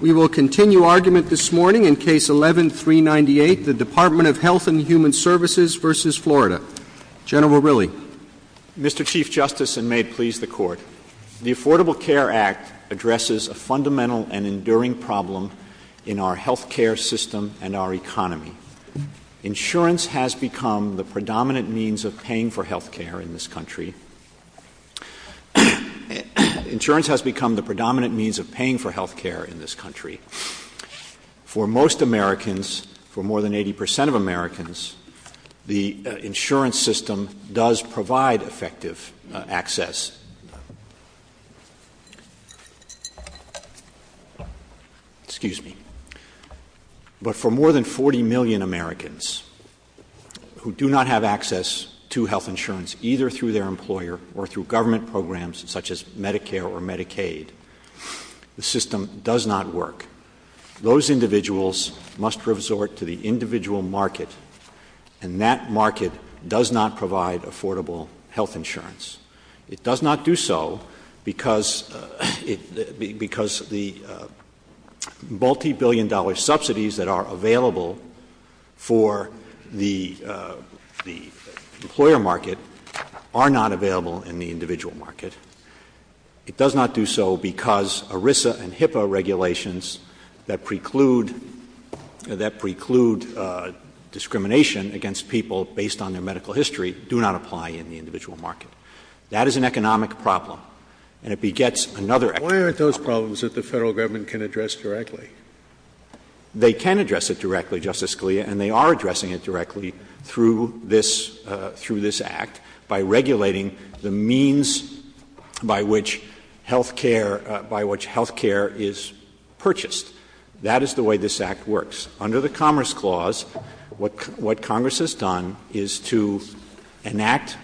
We will continue argument this morning in Case 11-398, the Department of Health and Human Services v. Florida. General Riley. Mr. Chief Justice, and may it please the Court, the Affordable Care Act addresses a fundamental and enduring problem in our health care system and our economy. Insurance has become the predominant means of paying for health care in this country. For most Americans, for more than 80 percent of Americans, the insurance system does provide effective access. Excuse me. But for more than 40 million Americans who do not have access to health insurance, such as Medicare or Medicaid, the system does not work. Those individuals must resort to the individual market, and that market does not provide affordable health insurance. It does not do so because the multibillion-dollar subsidies that are available for the employer market are not available in the individual market. It does not do so because ERISA and HIPAA regulations that preclude discrimination against people based on their medical history do not apply in the individual market. That is an economic problem, and it begets another economic problem. They can address it directly, Justice Scalia, and they are addressing it directly through this Act by regulating the means by which health care is purchased. That is the way this Act works. Under the Commerce Clause, what Congress has done is to enact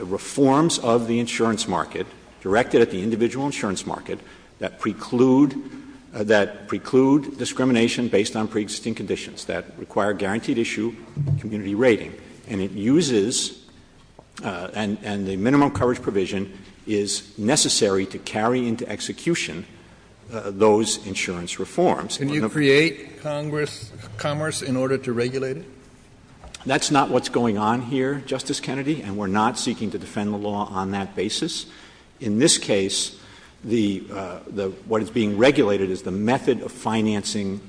reforms of the insurance market directed at the individual insurance market that preclude discrimination based on preexisting conditions that require guaranteed-issue community rating. And it uses, and the minimum coverage provision is necessary to carry into execution those insurance reforms. Can you create commerce in order to regulate it? That's not what's going on here, Justice Kennedy, and we're not seeking to defend the law on that basis. In this case, what is being regulated is the method of financing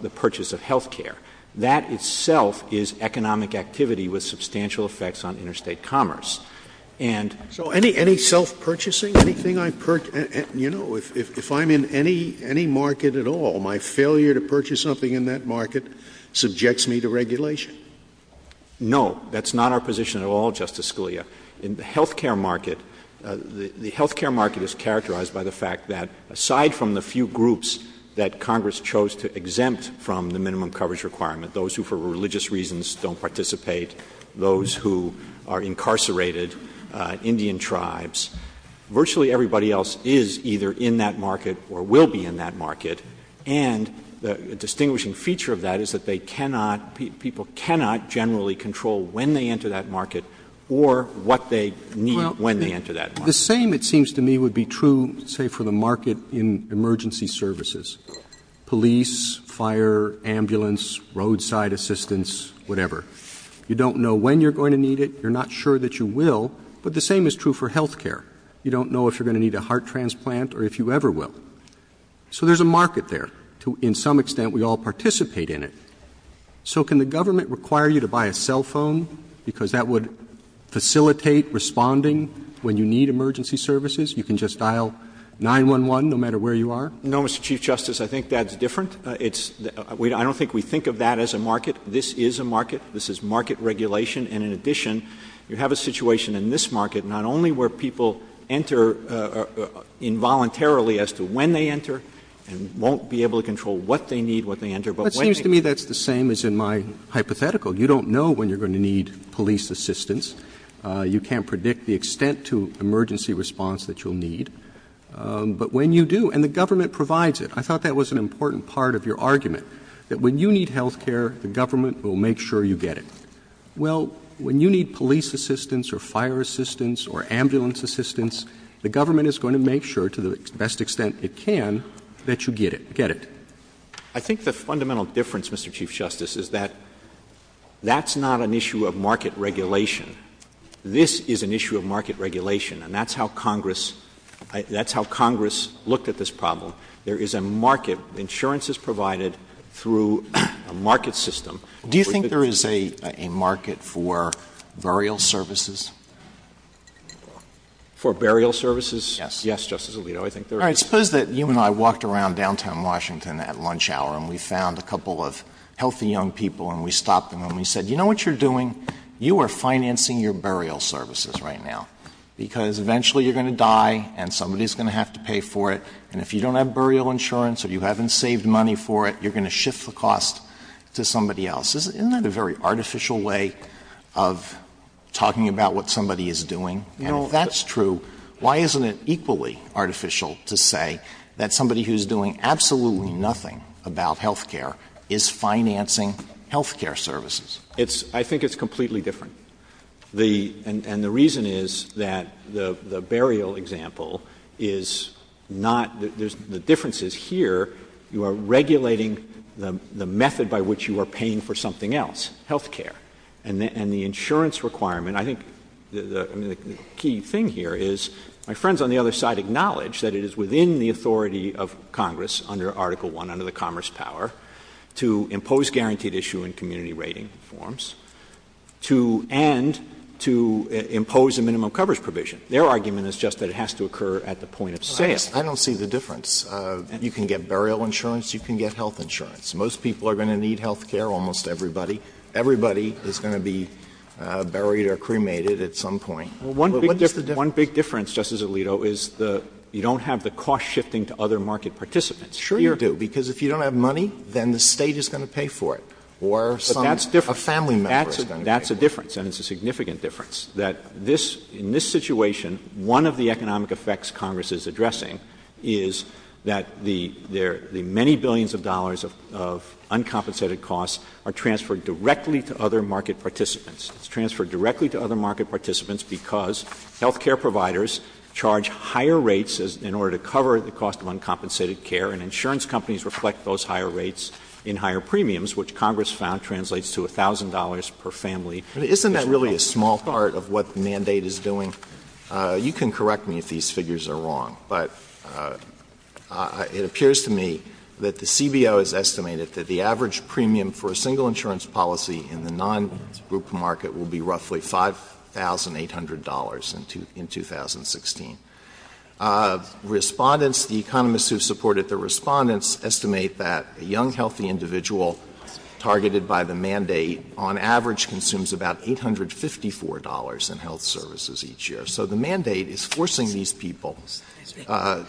the purchase of health care. That itself is economic activity with substantial effects on interstate commerce. So any self-purchasing? You know, if I'm in any market at all, my failure to purchase something in that market subjects me to regulation? No, that's not our position at all, Justice Scalia. In the health care market, the health care market is characterized by the fact that, aside from the few groups that Congress chose to exempt from the minimum coverage requirement, those who for religious reasons don't participate, those who are incarcerated, Indian tribes, virtually everybody else is either in that market or will be in that market. And a distinguishing feature of that is that they cannot, people cannot generally control when they enter that market or what they need when they enter that market. The same, it seems to me, would be true, say, for the market in emergency services. Police, fire, ambulance, roadside assistance, whatever. You don't know when you're going to need it, you're not sure that you will, but the same is true for health care. You don't know if you're going to need a heart transplant or if you ever will. So there's a market there. To some extent, we all participate in it. So can the government require you to buy a cell phone? Because that would facilitate responding when you need emergency services. You can just dial 911 no matter where you are. No, Mr. Chief Justice, I think that's different. I don't think we think of that as a market. This is a market. This is market regulation. And in addition, you have a situation in this market not only where people enter involuntarily as to when they enter and won't be able to control what they need when they enter. It seems to me that's the same as in my hypothetical. You don't know when you're going to need police assistance. You can't predict the extent to emergency response that you'll need. But when you do, and the government provides it. I thought that was an important part of your argument, that when you need health care, the government will make sure you get it. Well, when you need police assistance or fire assistance or ambulance assistance, the government is going to make sure to the best extent it can that you get it. I think the fundamental difference, Mr. Chief Justice, is that that's not an issue of market regulation. This is an issue of market regulation, and that's how Congress looked at this problem. There is a market. Insurance is provided through a market system. Do you think there is a market for burial services? For burial services? Yes. Yes, Justice Alito. I suppose that you and I walked around downtown Washington at lunch hour and we found a couple of healthy young people and we stopped them and we said, you know what you're doing? You are financing your burial services right now because eventually you're going to die and somebody is going to have to pay for it, and if you don't have burial insurance or you haven't saved money for it, you're going to shift the cost to somebody else. Isn't that a very artificial way of talking about what somebody is doing? That's true. Why isn't it equally artificial to say that somebody who is doing absolutely nothing about health care is financing health care services? I think it's completely different, and the reason is that the burial example is not... The difference is here you are regulating the method by which you are paying for something else, health care, and the insurance requirement... I think the key thing here is my friends on the other side acknowledge that it is within the authority of Congress under Article I under the Commerce Power to impose guaranteed issue in community rating forms and to impose a minimum coverage provision. Their argument is just that it has to occur at the point of sale. I don't see the difference. You can get burial insurance, you can get health insurance. Most people are going to need health care, almost everybody. Everybody is going to be buried or cremated at some point. One big difference, Justice Alito, is you don't have the cost shifting to other market participants. Sure you do, because if you don't have money, then the state is going to pay for it or a family member. That's a difference, and it's a significant difference, that in this situation, one of the economic effects Congress is addressing is that the many billions of dollars of uncompensated costs are transferred directly to other market participants. It's transferred directly to other market participants because health care providers charge higher rates in order to cover the cost of uncompensated care, and insurance companies reflect those higher rates in higher premiums, which Congress found translates to $1,000 per family. Isn't that really a small part of what the mandate is doing? You can correct me if these figures are wrong, but it appears to me that the CBO has estimated that the average premium for a single insurance policy in the non-group market will be roughly $5,800 in 2016. Respondents, the economists who supported the respondents, estimate that a young, healthy individual targeted by the mandate on average consumes about $854 in health services each year. So the mandate is forcing these people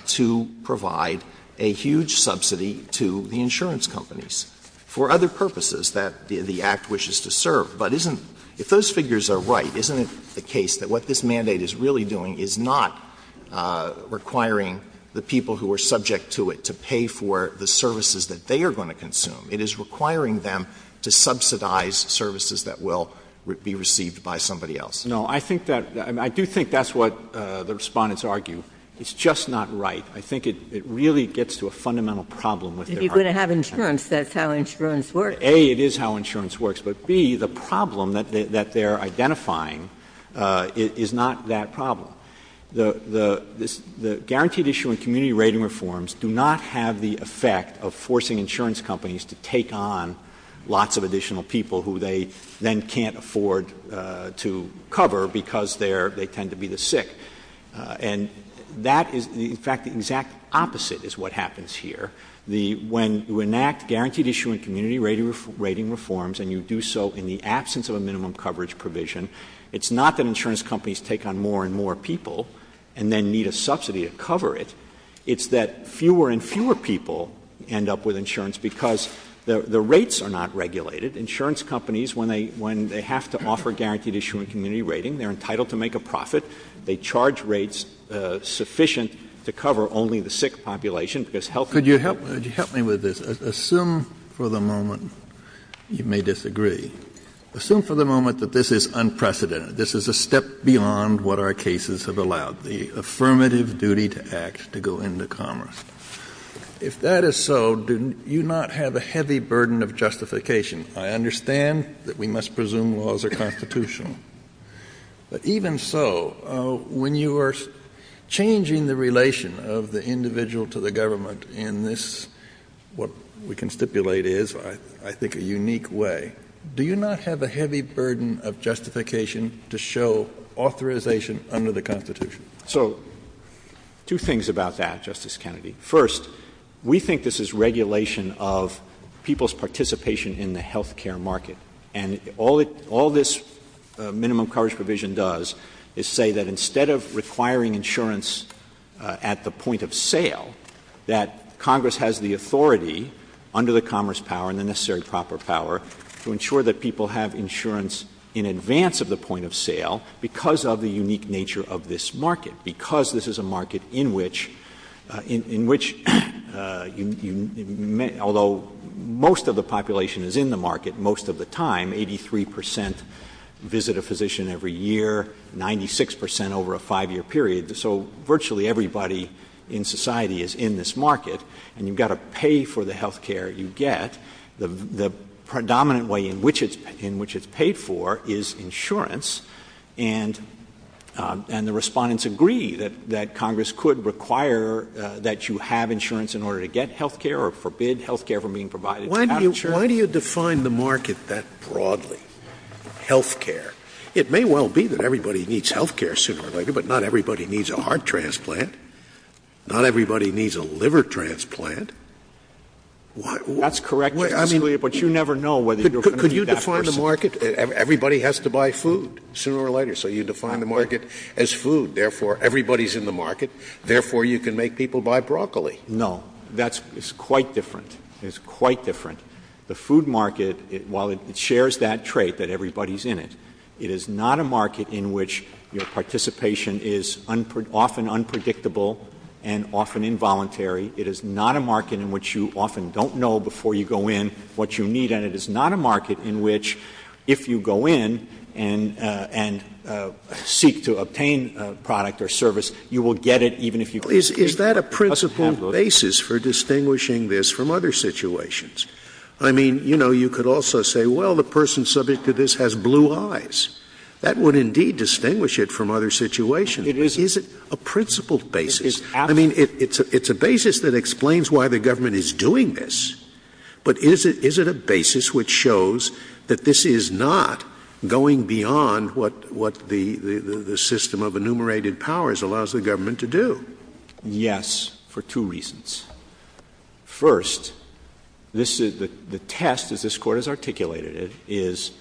to provide a huge subsidy to the insurance companies for other purposes that the Act wishes to serve. But if those figures are right, isn't it the case that what this mandate is really doing is not requiring the people who are subject to it to pay for the services that they are going to consume? It is requiring them to subsidize services that will be received by somebody else. No, I do think that's what the respondents argue. It's just not right. I think it really gets to a fundamental problem If you're going to have insurance, that's how insurance works. A, it is how insurance works, but B, the problem that they're identifying is not that problem. The guaranteed-issue and community rating reforms do not have the effect of forcing insurance companies to take on lots of additional people who they then can't afford to cover because they tend to be the sick. And that is, in fact, the exact opposite is what happens here. When you enact guaranteed-issue and community rating reforms and you do so in the absence of a minimum coverage provision, it's not that insurance companies take on more and more people and then need a subsidy to cover it. It's that fewer and fewer people end up with insurance because the rates are not regulated. Insurance companies, when they have to offer guaranteed-issue and community rating, they're entitled to make a profit. They charge rates sufficient to cover only the sick population. Could you help me with this? Assume for the moment you may disagree. Assume for the moment that this is unprecedented, this is a step beyond what our cases have allowed, the affirmative duty to act to go into commerce. If that is so, do you not have a heavy burden of justification? I understand that we must presume laws are constitutional. But even so, when you are changing the relation of the individual to the government in this, what we can stipulate is, I think, a unique way. Do you not have a heavy burden of justification to show authorization under the Constitution? So, two things about that, Justice Kennedy. First, we think this is regulation of people's participation in the health care market. And all this minimum coverage provision does is say that instead of requiring insurance at the point of sale, that Congress has the authority, under the commerce power and the necessary proper power, to ensure that people have insurance in advance of the point of sale because of the unique nature of this market, because this is a market in which, although most of the population is in the market most of the time, 83% visit a physician every year, 96% over a five-year period. So virtually everybody in society is in this market. And you've got to pay for the health care you get. The predominant way in which it's paid for is insurance. And the respondents agree that Congress could require that you have insurance in order to get health care or forbid health care from being provided. Why do you define the market that broadly, health care? It may well be that everybody needs health care sooner or later, but not everybody needs a heart transplant. Not everybody needs a liver transplant. That's correct, Justice Kennedy, but you never know whether you're going to be that person. Could you define the market? Everybody has to buy food sooner or later, so you define the market as food. Therefore, everybody's in the market. Therefore, you can make people buy broccoli. No, it's quite different. It's quite different. The food market, while it shares that trait that everybody's in it, it is not a market in which participation is often unpredictable and often involuntary. It is not a market in which you often don't know before you go in what you need, and it is not a market in which if you go in and seek to obtain a product or service, you will get it even if you don't get it. Is that a principle basis for distinguishing this from other situations? I mean, you could also say, well, the person subject to this has blue eyes. That would indeed distinguish it from other situations. Is it a principle basis? I mean, it's a basis that explains why the government is doing this, but is it a basis which shows that this is not going beyond what the system of enumerated powers allows the government to do? Yes, for two reasons. First, the test, as this Court has articulated it, is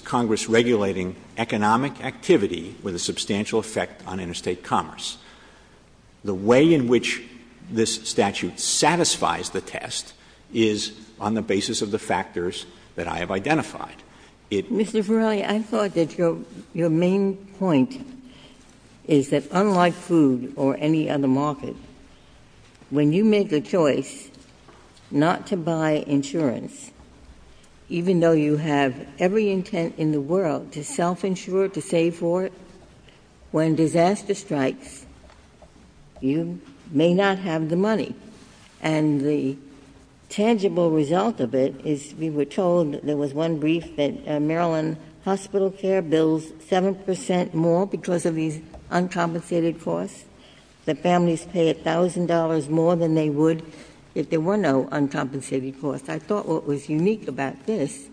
Congress regulating economic activity with a substantial effect on interstate commerce. The way in which this statute satisfies the test is on the basis of the factors that I have identified. Mr. Verrilli, I thought that your main point is that unlike food or any other market, when you make a choice not to buy insurance, even though you have every intent in the world to self-insure, to save for it, when disaster strikes, you may not have the money. And the tangible result of it is we were told there was one brief that Maryland hospital care bills 7% more because of these uncompensated costs, that families pay $1,000 more than they would if there were no uncompensated costs. I thought what was unique about this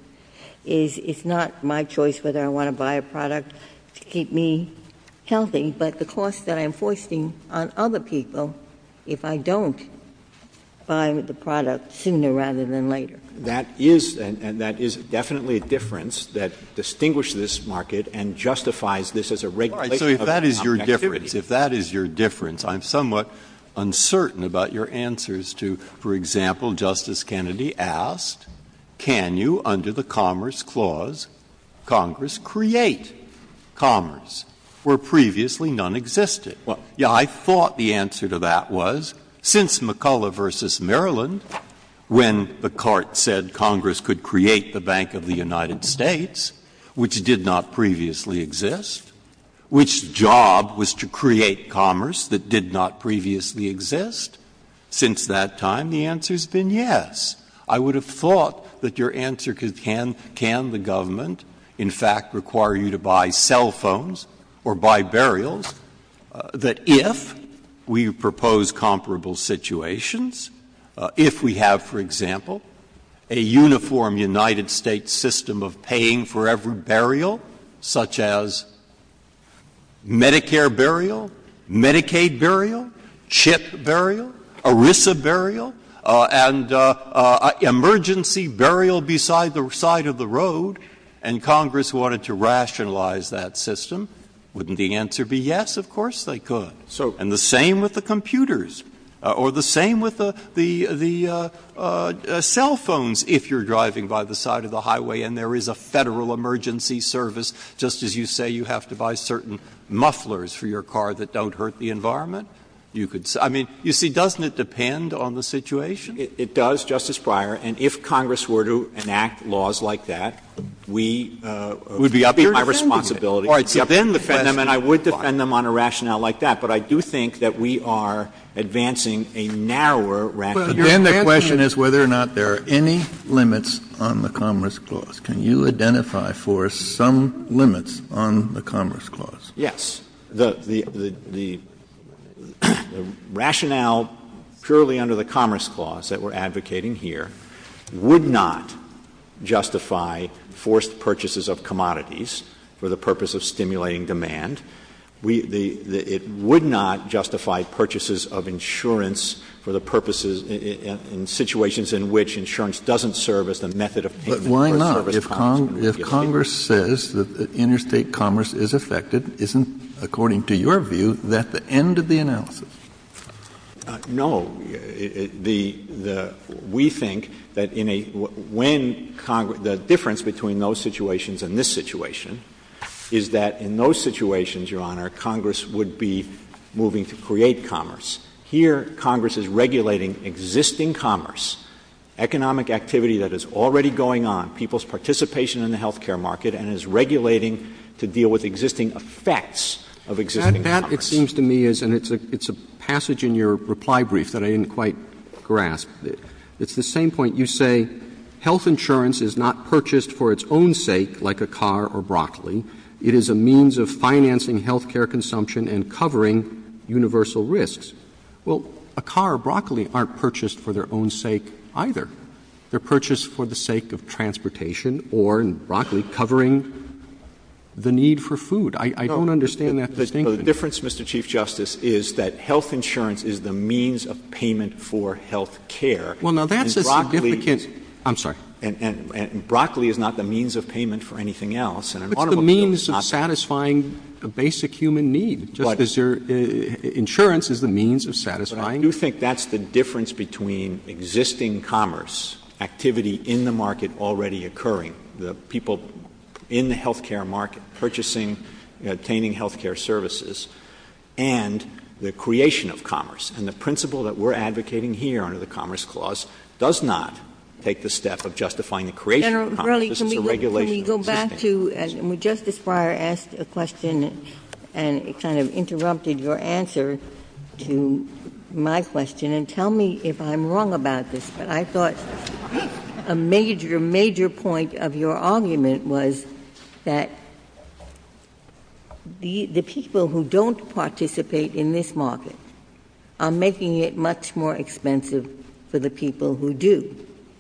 is it's not my choice whether I want to buy a product to keep me healthy, but the cost that I'm forcing on other people if I don't buy the product sooner rather than later. That is definitely a difference that distinguishes this market and justifies this as a regulation of economic activity. If that is your difference, I'm somewhat uncertain about your answers to, for example, Justice Kennedy asked, can you, under the Commerce Clause, Congress create commerce where previously none existed? Yeah, I thought the answer to that was since McCulloch versus Maryland, when the court said Congress could create the Bank of the United States, which did not previously exist, which job was to create commerce that did not previously exist? Since that time, the answer has been yes. I would have thought that your answer to can the government, in fact, require you to buy cell phones or buy burials, that if we propose comparable situations, if we have, for example, a uniform United States system of paying for every burial, such as Medicare burial, Medicaid burial, CHIP burial, ERISA burial, and emergency burial beside the side of the road, and Congress wanted to rationalize that system, wouldn't the answer be yes? Of course they could. And the same with the computers, or the same with the cell phones, if you're driving by the side of the highway and there is a Federal emergency service, just as you say you have to buy certain mufflers for your car that don't hurt the environment, you could say — I mean, you see, doesn't it depend on the situation? It does, Justice Breyer. And if Congress were to enact laws like that, we would be up here defending them. I would defend them on a rationale like that. But I do think that we are advancing a narrower rationale. Again, the question is whether or not there are any limits on the Commerce Clause. Can you identify for us some limits on the Commerce Clause? Yes. The rationale purely under the Commerce Clause that we're advocating here would not justify forced purchases of commodities for the purpose of stimulating demand. It would not justify purchases of insurance for the purposes — in situations in which insurance doesn't serve as the method of payment. But why not? If Congress says that interstate commerce is affected, isn't, according to your view, that the end of the analysis? No. We think that in a — when Congress — The difference between those situations and this situation is that in those situations, Your Honor, Congress would be moving to create commerce. Here, Congress is regulating existing commerce, economic activity that is already going on, people's participation in the health care market, and is regulating to deal with existing effects of existing commerce. That, it seems to me, is — and it's a passage in your reply brief that I didn't quite grasp. It's the same point. You say health insurance is not purchased for its own sake, like a car or broccoli. It is a means of financing health care consumption and covering universal risks. Well, a car or broccoli aren't purchased for their own sake either. They're purchased for the sake of transportation or, in broccoli, covering the need for food. I don't understand that. The difference, Mr. Chief Justice, is that health insurance is the means of payment for health care. Well, now, that's a significant — I'm sorry. And broccoli is not the means of payment for anything else. But the means of satisfying a basic human need. Insurance is the means of satisfying — But I do think that's the difference between existing commerce, activity in the market already occurring, the people in the health care market purchasing and attaining health care services, and the creation of commerce. And the principle that we're advocating here under the Commerce Clause does not take the step of justifying the creation of commerce. This is a regulation of commerce. Can we go back to — Justice Breyer asked a question and kind of interrupted your answer to my question. And tell me if I'm wrong about this. I thought a major, major point of your argument was that the people who don't participate in this market are making it much more expensive for the people who do.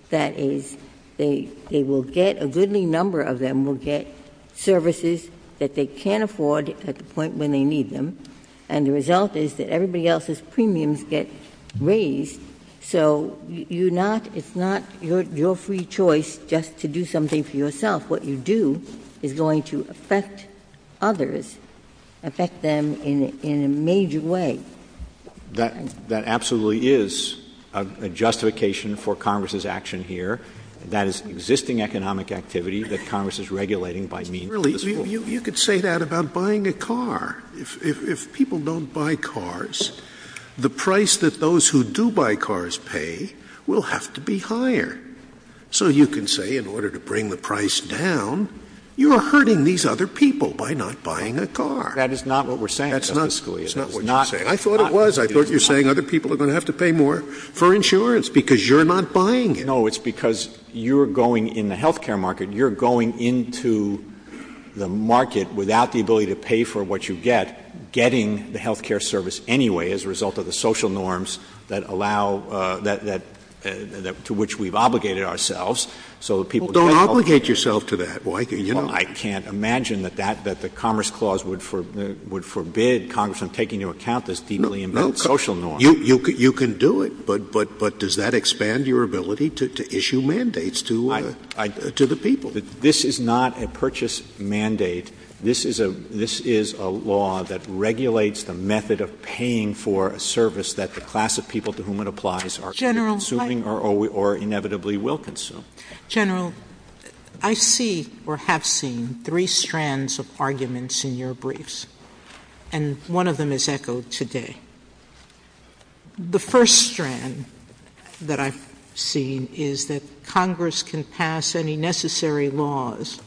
That is, they will get — a goodly number of them will get services that they can't afford at the point when they need them. And the result is that everybody else's premiums get raised. So you're not — it's not your free choice just to do something for yourself. What you do is going to affect others, affect them in a major way. That absolutely is a justification for Congress's action here. That is existing economic activity that Congress is regulating by means of — You could say that about buying a car. If people don't buy cars, the price that those who do buy cars pay will have to be higher. So you can say in order to bring the price down, you are hurting these other people by not buying a car. That is not what we're saying, Justice Scalia. That's not what you're saying. I thought it was. I thought you were saying other people are going to have to pay more for insurance because you're not buying it. No, it's because you're going in the health care market, you're going into the market without the ability to pay for what you get, getting the health care service anyway as a result of the social norms that allow — to which we've obligated ourselves. Well, don't obligate yourself to that. I can't imagine that the Commerce Clause would forbid Congress from taking into account this deeply embedded social norm. You can do it. But does that expand your ability to issue mandates to the people? This is not a purchase mandate. This is a law that regulates the method of paying for a service that the class of people to whom it applies are consuming or inevitably will consume. General, I see or have seen three strands of arguments in your briefs, and one of them is echoed today. The first strand that I've seen is that Congress can pass any necessary laws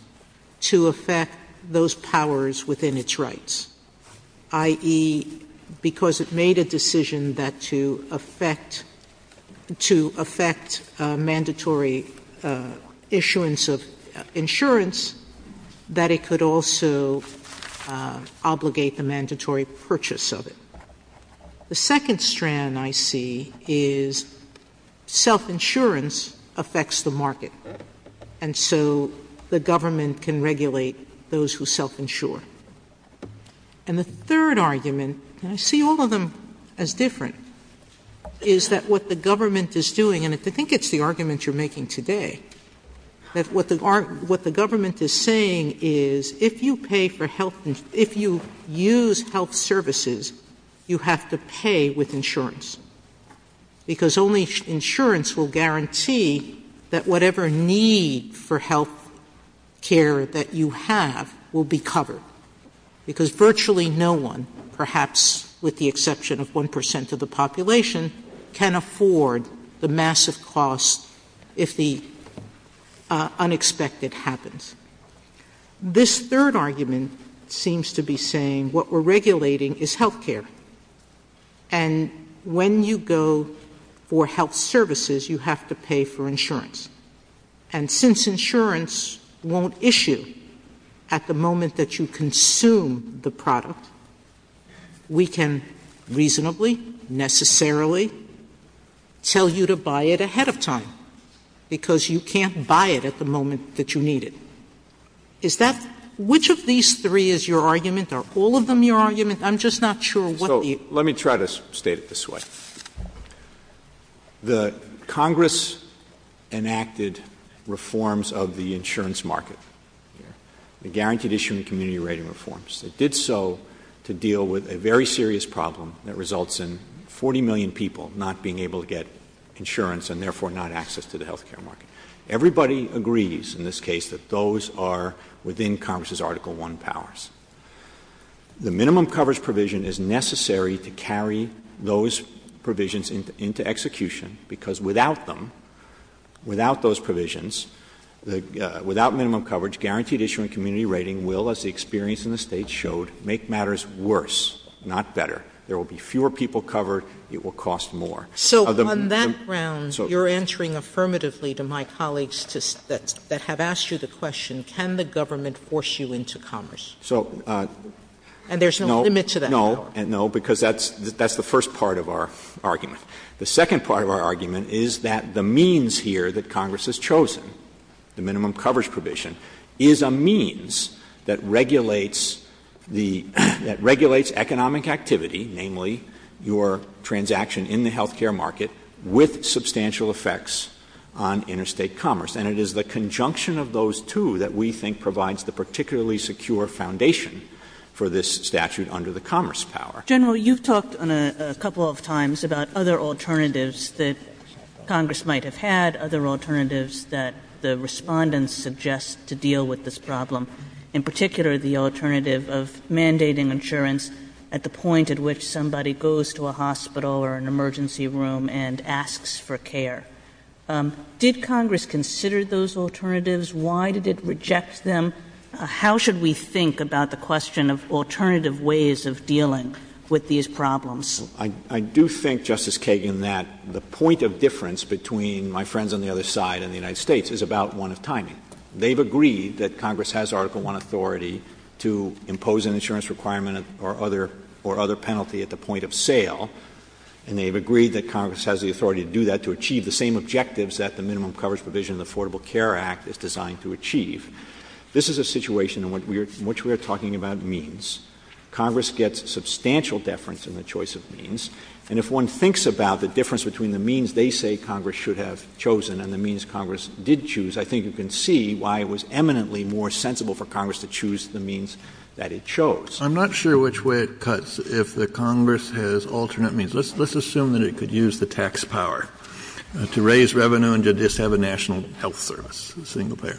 to affect those powers within its rights, i.e., because it made a decision to affect mandatory issuance of insurance, that it could also obligate the mandatory purchase of it. The second strand I see is self-insurance affects the market, and so the government can regulate those who self-insure. And the third argument, and I see all of them as different, is that what the government is doing, and I think it's the argument you're making today, that what the government is saying is if you pay for health — if you use health services, you have to pay with insurance, because only insurance will guarantee that whatever need for health care that you have will be covered, because virtually no one, perhaps with the exception of one percent of the population, can afford the massive cost if the unexpected happens. This third argument seems to be saying what we're regulating is health care, and when you go for health services, you have to pay for insurance. And since insurance won't issue at the moment that you consume the product, we can reasonably, necessarily, tell you to buy it ahead of time, because you can't buy it at the moment that you need it. Is that — which of these three is your argument? Are all of them your argument? I'm just not sure what the — So, let me try to state it this way. The Congress enacted reforms of the insurance market, the Guaranteed Issuing Community Rating Reforms. It did so to deal with a very serious problem that results in 40 million people not being able to get insurance and therefore not access to the health care market. Everybody agrees in this case that those are within Congress's Article I powers. The minimum coverage provision is necessary to carry those provisions into execution, because without them, without those provisions, without minimum coverage, Guaranteed Issuing Community Rating will, as the experience in the states showed, make matters worse, not better. There will be fewer people covered. It will cost more. So, on that ground, you're answering affirmatively to my colleagues that have asked you the question, can the government force you into commerce? And there's no limit to that. No, because that's the first part of our argument. The second part of our argument is that the means here that Congress has chosen, the minimum coverage provision, is a means that regulates economic activity, namely your transaction in the health care market, with substantial effects on interstate commerce. And it is the conjunction of those two that we think provides the particularly secure foundation for this statute under the commerce power. General, you've talked a couple of times about other alternatives that Congress might have had, other alternatives that the respondents suggest to deal with this problem, in particular the alternative of mandating insurance at the point at which somebody goes to a hospital or an emergency room and asks for care. Did Congress consider those alternatives? Why did it reject them? How should we think about the question of alternative ways of dealing with these problems? I do think, Justice Kagan, that the point of difference between my friends on the other side and the United States is about one of timing. They've agreed that Congress has Article I authority to impose an insurance requirement or other penalty at the point of sale, and they've agreed that Congress has the authority to do that, to achieve the same objectives that the minimum coverage provision of the Affordable Care Act is designed to achieve. This is a situation in which we are talking about means. Congress gets substantial deference in the choice of means, and if one thinks about the difference between the means they say Congress should have chosen and the means Congress did choose, I think you can see why it was eminently more sensible for Congress to choose the means that it chose. I'm not sure which way it cuts if the Congress has alternate means. Let's assume that it could use the tax power to raise revenue and to just have a national health service, a single payer.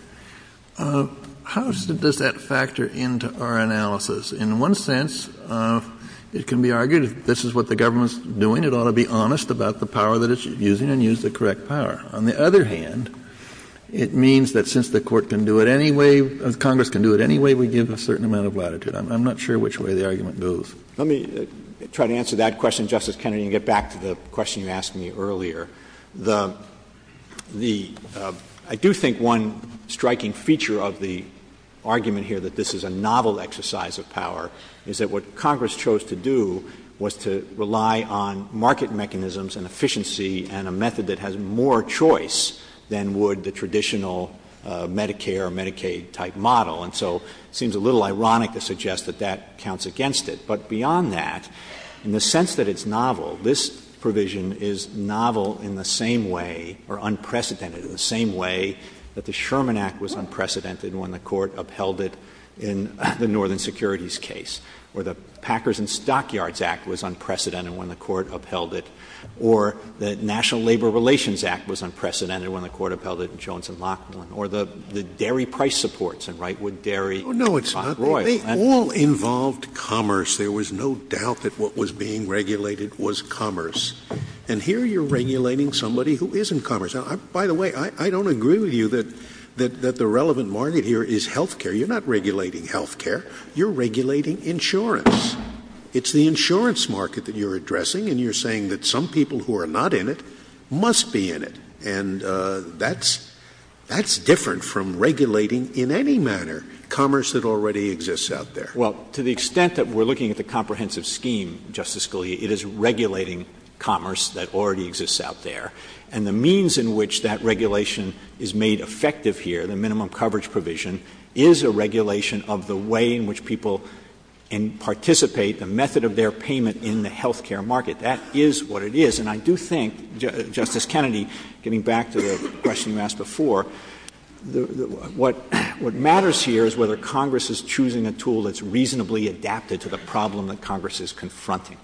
How does that factor into our analysis? In one sense, it can be argued this is what the government's doing. It ought to be honest about the power that it's using and use the correct power. On the other hand, it means that since the court can do it any way, if Congress can do it any way, we give a certain amount of latitude. I'm not sure which way the argument goes. Let me try to answer that question, Justice Kennedy, and get back to the question you asked me earlier. I do think one striking feature of the argument here that this is a novel exercise of power is that what Congress chose to do was to rely on market mechanisms and efficiency and a method that has more choice than would the traditional Medicare or Medicaid type model. And so it seems a little ironic to suggest that that counts against it. But beyond that, in the sense that it's novel, this provision is novel in the same way or unprecedented in the same way that the Sherman Act was unprecedented when the court upheld it in the Northern Securities case or the Packers and Stockyards Act was unprecedented when the court upheld it or the National Labor Relations Act was unprecedented when the court upheld it in Jones and Lachlan or the dairy price supports in Wrightwood Dairy. No, it's not. They all involved commerce. There was no doubt that what was being regulated was commerce. And here you're regulating somebody who isn't commerce. By the way, I don't agree with you that the relevant market here is health care. You're not regulating health care. You're regulating insurance. It's the insurance market that you're addressing, and you're saying that some people who are not in it must be in it. And that's different from regulating in any manner commerce that already exists out there. Well, to the extent that we're looking at the comprehensive scheme, Justice Scalia, it is regulating commerce that already exists out there. And the means in which that regulation is made effective here, the minimum coverage provision, is a regulation of the way in which people participate, the method of their payment in the health care market. That is what it is. And I do think, Justice Kennedy, getting back to the question you asked before, what matters here is whether Congress is choosing a tool that's reasonably adapted to the problem that Congress is confronting.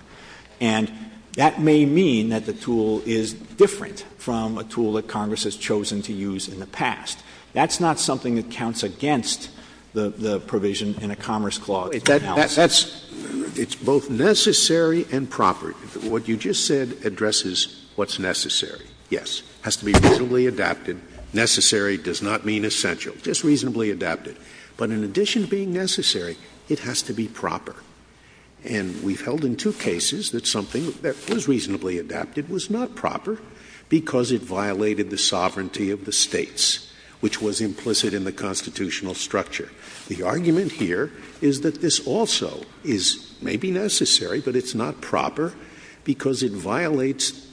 And that may mean that the tool is different from a tool that Congress has chosen to use in the past. That's not something that counts against the provision in a commerce clause. It's both necessary and proper. What you just said addresses what's necessary. Yes, it has to be reasonably adapted. Necessary does not mean essential. Just reasonably adapted. But in addition to being necessary, it has to be proper. And we've held in two cases that something that is reasonably adapted was not proper because it violated the sovereignty of the states, which was implicit in the constitutional structure. The argument here is that this also is maybe necessary, but it's not proper, because it violates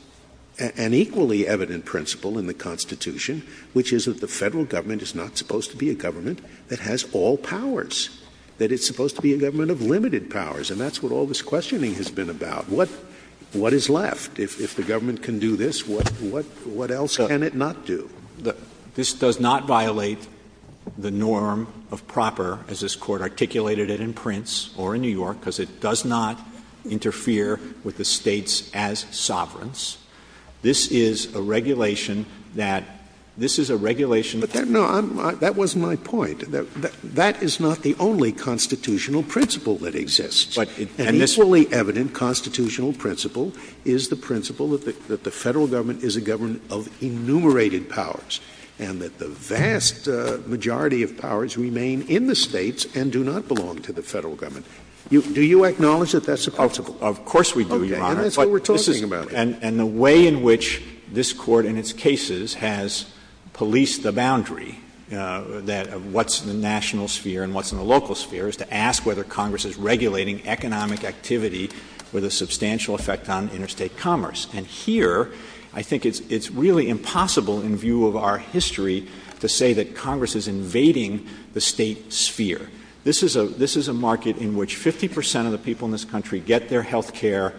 an equally evident principle in the Constitution, which is that the federal government is not supposed to be a government that has all powers. That it's supposed to be a government of limited powers. And that's what all this questioning has been about. What is left? If the government can do this, what else can it not do? This does not violate the norm of proper, as this Court articulated it in Prince or in New York, because it does not interfere with the states as sovereigns. This is a regulation that — this is a regulation that — But, no, that was my point. That is not the only constitutional principle that exists. An equally evident constitutional principle is the principle that the federal government is a government of enumerated powers. And that the vast majority of powers remain in the states and do not belong to the federal government. Do you acknowledge that that's the principle? Of course we do, Your Honor. Okay. And that's what we're talking about. And the way in which this Court in its cases has policed the boundary of what's in the national sphere and what's in the local sphere is to ask whether Congress is regulating economic activity with a substantial effect on interstate commerce. And here, I think it's really impossible in view of our history to say that Congress is invading the state sphere. This is a market in which 50 percent of the people in this country get their health care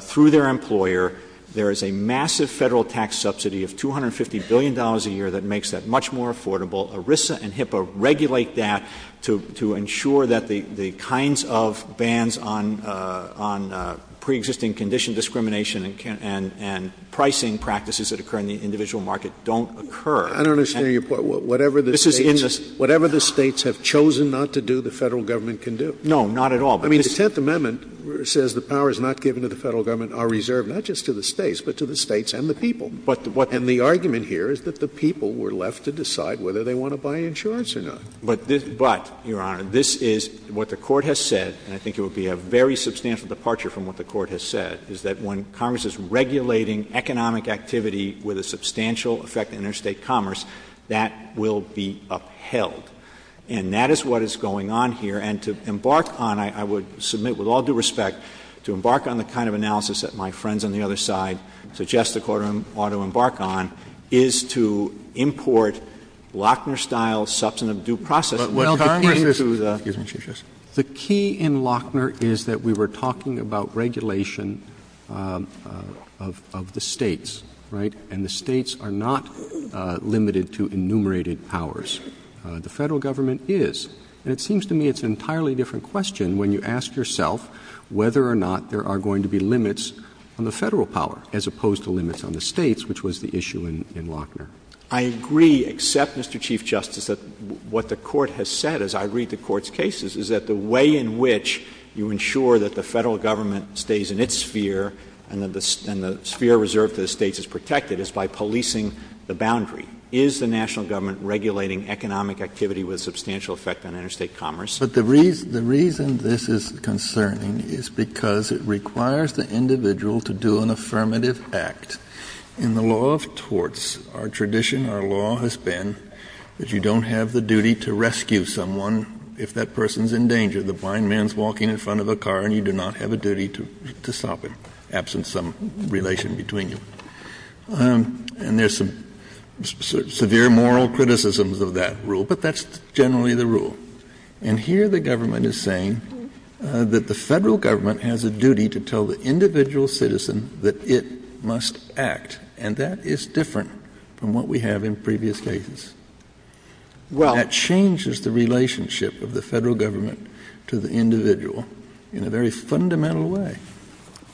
through their employer. There is a massive federal tax subsidy of $250 billion a year that makes that much more affordable. ERISA and HIPAA regulate that to ensure that the kinds of bans on preexisting condition discrimination and pricing practices that occur in the individual market don't occur. I don't understand your point. Whatever the states have chosen not to do, the federal government can do. No, not at all. I mean, the Tenth Amendment says the powers not given to the federal government are reserved not just to the states, but to the states and the people. And the argument here is that the people were left to decide whether they want to buy insurance or not. But, Your Honor, this is what the Court has said, and I think it would be a very substantial departure from what the Court has said, is that when Congress is regulating economic activity with a substantial effect on interstate commerce, that will be upheld. And that is what is going on here, and to embark on it, I would submit with all due respect to embark on the kind of analysis that my friends on the other side suggest the Court ought to embark on, is to import Lochner-style substantive due process. The key in Lochner is that we were talking about regulation of the states, right? And the states are not limited to enumerated powers. The federal government is. And it seems to me it's an entirely different question when you ask yourself whether or not there are going to be limits on the federal power as opposed to limits on the states, which was the issue in Lochner. I agree, except, Mr. Chief Justice, that what the Court has said, as I read the Court's cases, is that the way in which you ensure that the federal government stays in its sphere and the sphere reserved to the states is protected is by policing the boundary. Is the national government regulating economic activity with substantial effect on interstate commerce? But the reason this is concerning is because it requires the individual to do an affirmative act. In the law of torts, our tradition, our law has been that you don't have the duty to rescue someone if that person is in danger. The blind man is walking in front of the car and you do not have a duty to stop him, absent some relation between you. And there's some severe moral criticisms of that rule, but that's generally the rule. And here the government is saying that the federal government has a duty to tell the individual citizen that it must act, and that is different from what we have in previous cases. That changes the relationship of the federal government to the individual in a very fundamental way.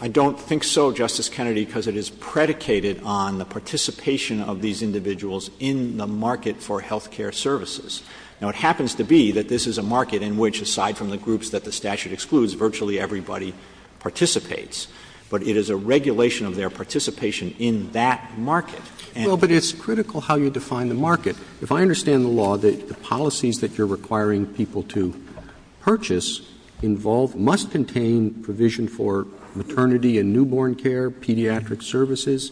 I don't think so, Justice Kennedy, because it is predicated on the participation of these individuals in the market for health care services. Now, it happens to be that this is a market in which, aside from the groups that the statute excludes, virtually everybody participates. But it is a regulation of their participation in that market. But it's critical how you define the market. If I understand the law, the policies that you're requiring people to purchase involve must contain provision for maternity and newborn care, pediatric services,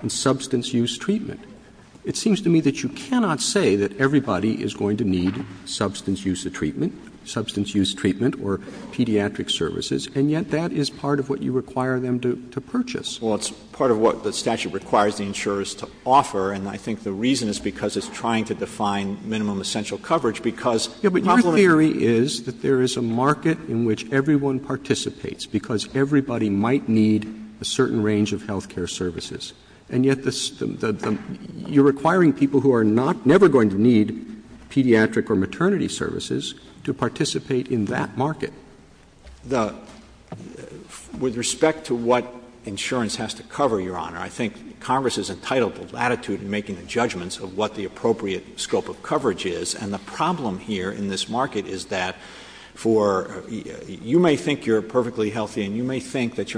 and substance use treatment. It seems to me that you cannot say that everybody is going to need substance use treatment, substance use treatment or pediatric services, and yet that is part of what you require them to purchase. Well, it's part of what the statute requires the insurers to offer, and I think the reason is because it's trying to define minimum essential coverage because But your theory is that there is a market in which everyone participates because everybody might need a certain range of health care services. And yet you're requiring people who are never going to need pediatric or maternity services to participate in that market. With respect to what insurance has to cover, Your Honor, I think Congress is entitled to latitude in making the judgments of what the appropriate scope of coverage is, and the problem here in this market is that you may think you're perfectly healthy and you may think that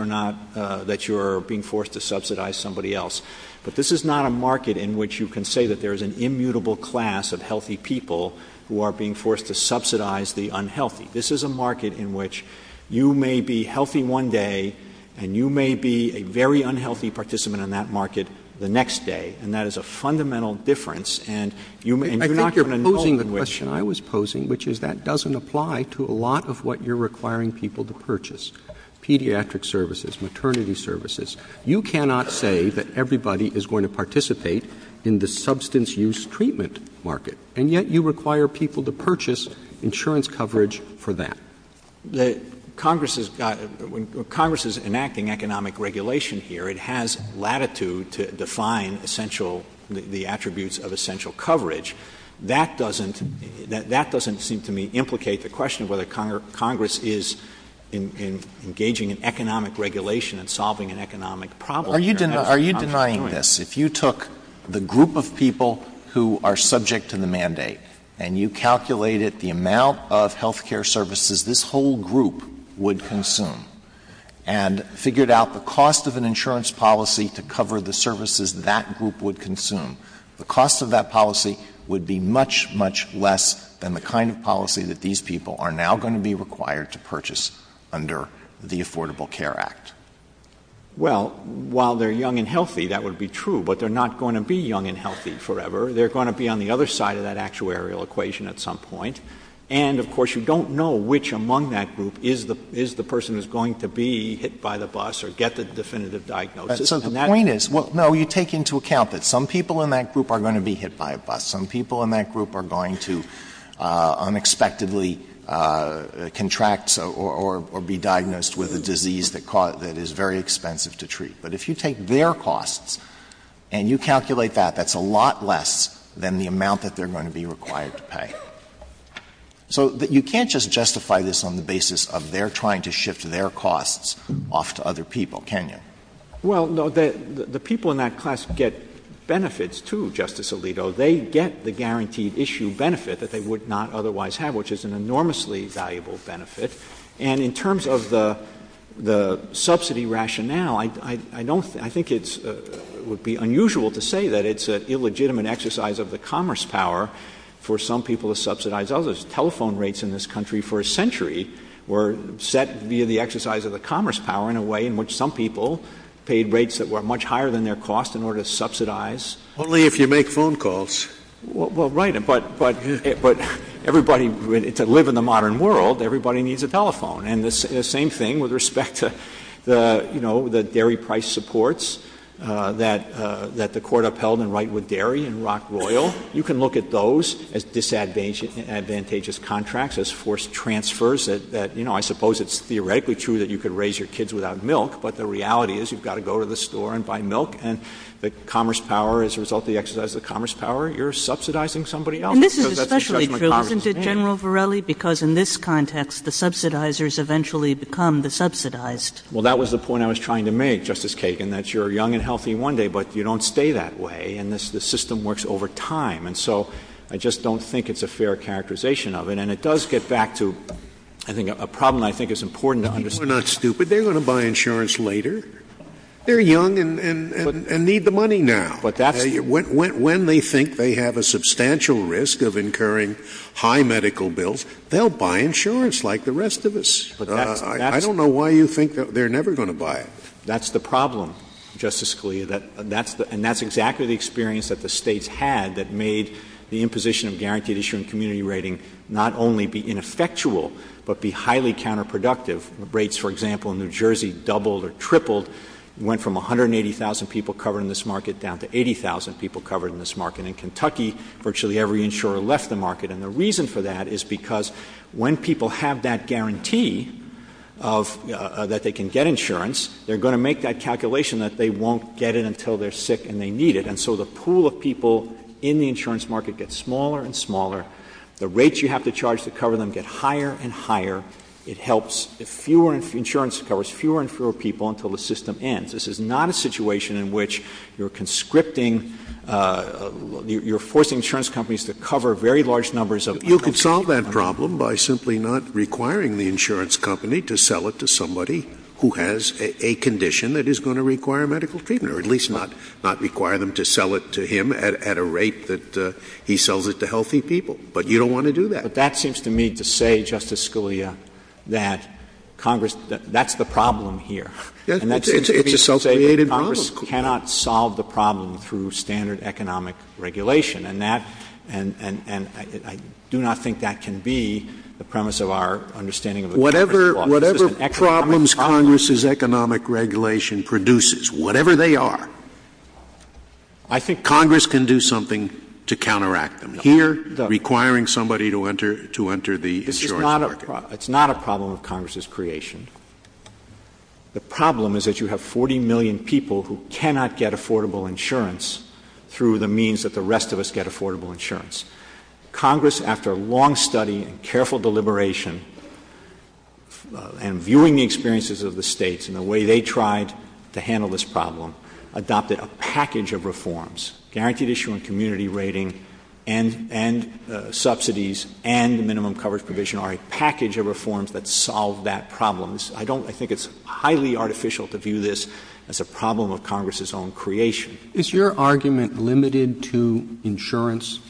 you're being forced to subsidize somebody else, but this is not a market in which you can say that there is an immutable class of healthy people who are being forced to subsidize the unhealthy. This is a market in which you may be healthy one day and you may be a very unhealthy participant in that market the next day, and that is a fundamental difference. I think you're posing the question I was posing, which is that doesn't apply to a lot of what you're requiring people to purchase, pediatric services, maternity services. You cannot say that everybody is going to participate in the substance use treatment market, and yet you require people to purchase insurance coverage for that. Congress is enacting economic regulation here. It has latitude to define the attributes of essential coverage. That doesn't seem to me implicate the question whether Congress is engaging in economic regulation and solving an economic problem. Are you denying this? If you took the group of people who are subject to the mandate and you calculated the amount of health care services this whole group would consume and figured out the cost of an insurance policy to cover the services that group would consume, the cost of that policy would be much, much less than the kind of policy that these people are now going to be required to purchase under the Affordable Care Act. Well, while they're young and healthy, that would be true, but they're not going to be young and healthy forever. They're going to be on the other side of that actuarial equation at some point, and, of course, you don't know which among that group is the person that's going to be hit by the bus or get the definitive diagnosis. So the point is, no, you take into account that some people in that group are going to be hit by a bus. Some people in that group are going to unexpectedly contract or be diagnosed with a disease that is very expensive to treat. But if you take their costs and you calculate that, that's a lot less than the amount that they're going to be required to pay. So you can't just justify this on the basis of they're trying to shift their costs off to other people, can you? Well, no, the people in that class get benefits, too, Justice Alito. They get the guaranteed issue benefit that they would not otherwise have, which is an enormously valuable benefit. And in terms of the subsidy rationale, I think it would be unusual to say that it's an illegitimate exercise of the commerce power for some people to subsidize others. Telephone rates in this country for a century were set via the exercise of the commerce power in a way in which some people paid rates that were much higher than their costs in order to subsidize. Only if you make phone calls. Well, right, but to live in the modern world, everybody needs a telephone. And the same thing with respect to, you know, the dairy price supports that the court upheld in Wrightwood Dairy and Rock Royal. You can look at those as disadvantageous contracts, as forced transfers, that, you know, I suppose it's theoretically true that you could raise your kids without milk, but the reality is you've got to go to the store and buy milk, and the commerce power, as a result of the exercise of the commerce power, you're subsidizing somebody else. And this is especially true, isn't it, General Varelli? Because in this context, the subsidizers eventually become the subsidized. Well, that was the point I was trying to make, Justice Kagan, that you're young and healthy one day, but you don't stay that way, and the system works over time. And so I just don't think it's a fair characterization of it. And it does get back to a problem I think is important to understand. They're not stupid. They're going to buy insurance later. They're young and need the money now. When they think they have a substantial risk of incurring high medical bills, they'll buy insurance like the rest of us. I don't know why you think that they're never going to buy it. That's the problem, Justice Scalia, and that's exactly the experience that the states had that made the imposition of guaranteed issuing community rating not only be ineffectual but be highly counterproductive. Rates, for example, in New Jersey doubled or tripled, went from 180,000 people covered in this market down to 80,000 people covered in this market. In Kentucky, virtually every insurer left the market, and the reason for that is because when people have that guarantee that they can get insurance, they're going to make that calculation that they won't get it until they're sick and they need it. And so the pool of people in the insurance market gets smaller and smaller. The rates you have to charge to cover them get higher and higher. Insurance covers fewer and fewer people until the system ends. This is not a situation in which you're conscripting, you're forcing insurance companies to cover very large numbers of people. You can solve that problem by simply not requiring the insurance company to sell it to somebody who has a condition that is going to require medical treatment, or at least not require them to sell it to him at a rate that he sells it to healthy people. But you don't want to do that. But that seems to me to say, Justice Scalia, that Congress, that's the problem here. It's a self-created problem. Congress cannot solve the problem through standard economic regulation, and I do not think that can be the premise of our understanding. Whatever problems Congress's economic regulation produces, whatever they are, I think Congress can do something to counteract them. Requiring somebody to enter the insurance market. It's not a problem of Congress's creation. The problem is that you have 40 million people who cannot get affordable insurance through the means that the rest of us get affordable insurance. Congress, after a long study and careful deliberation, and viewing the experiences of the states and the way they tried to handle this problem, adopted a package of reforms. Guaranteed issue on community rating and subsidies and minimum coverage provision are a package of reforms that solve that problem. I think it's highly artificial to view this as a problem of Congress's own creation. Is your argument limited to insurance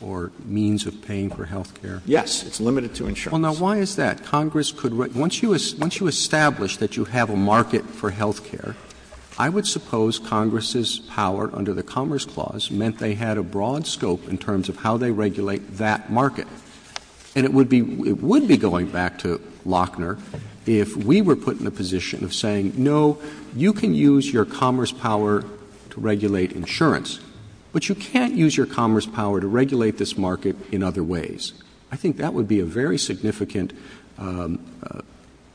or means of paying for health care? Yes, it's limited to insurance. Well, now, why is that? Once you establish that you have a market for health care, I would suppose Congress's power under the Commerce Clause meant they had a broad scope in terms of how they regulate that market. And it would be going back to Lochner if we were put in a position of saying, no, you can use your commerce power to regulate insurance, but you can't use your commerce power to regulate this market in other ways. I think that would be a very significant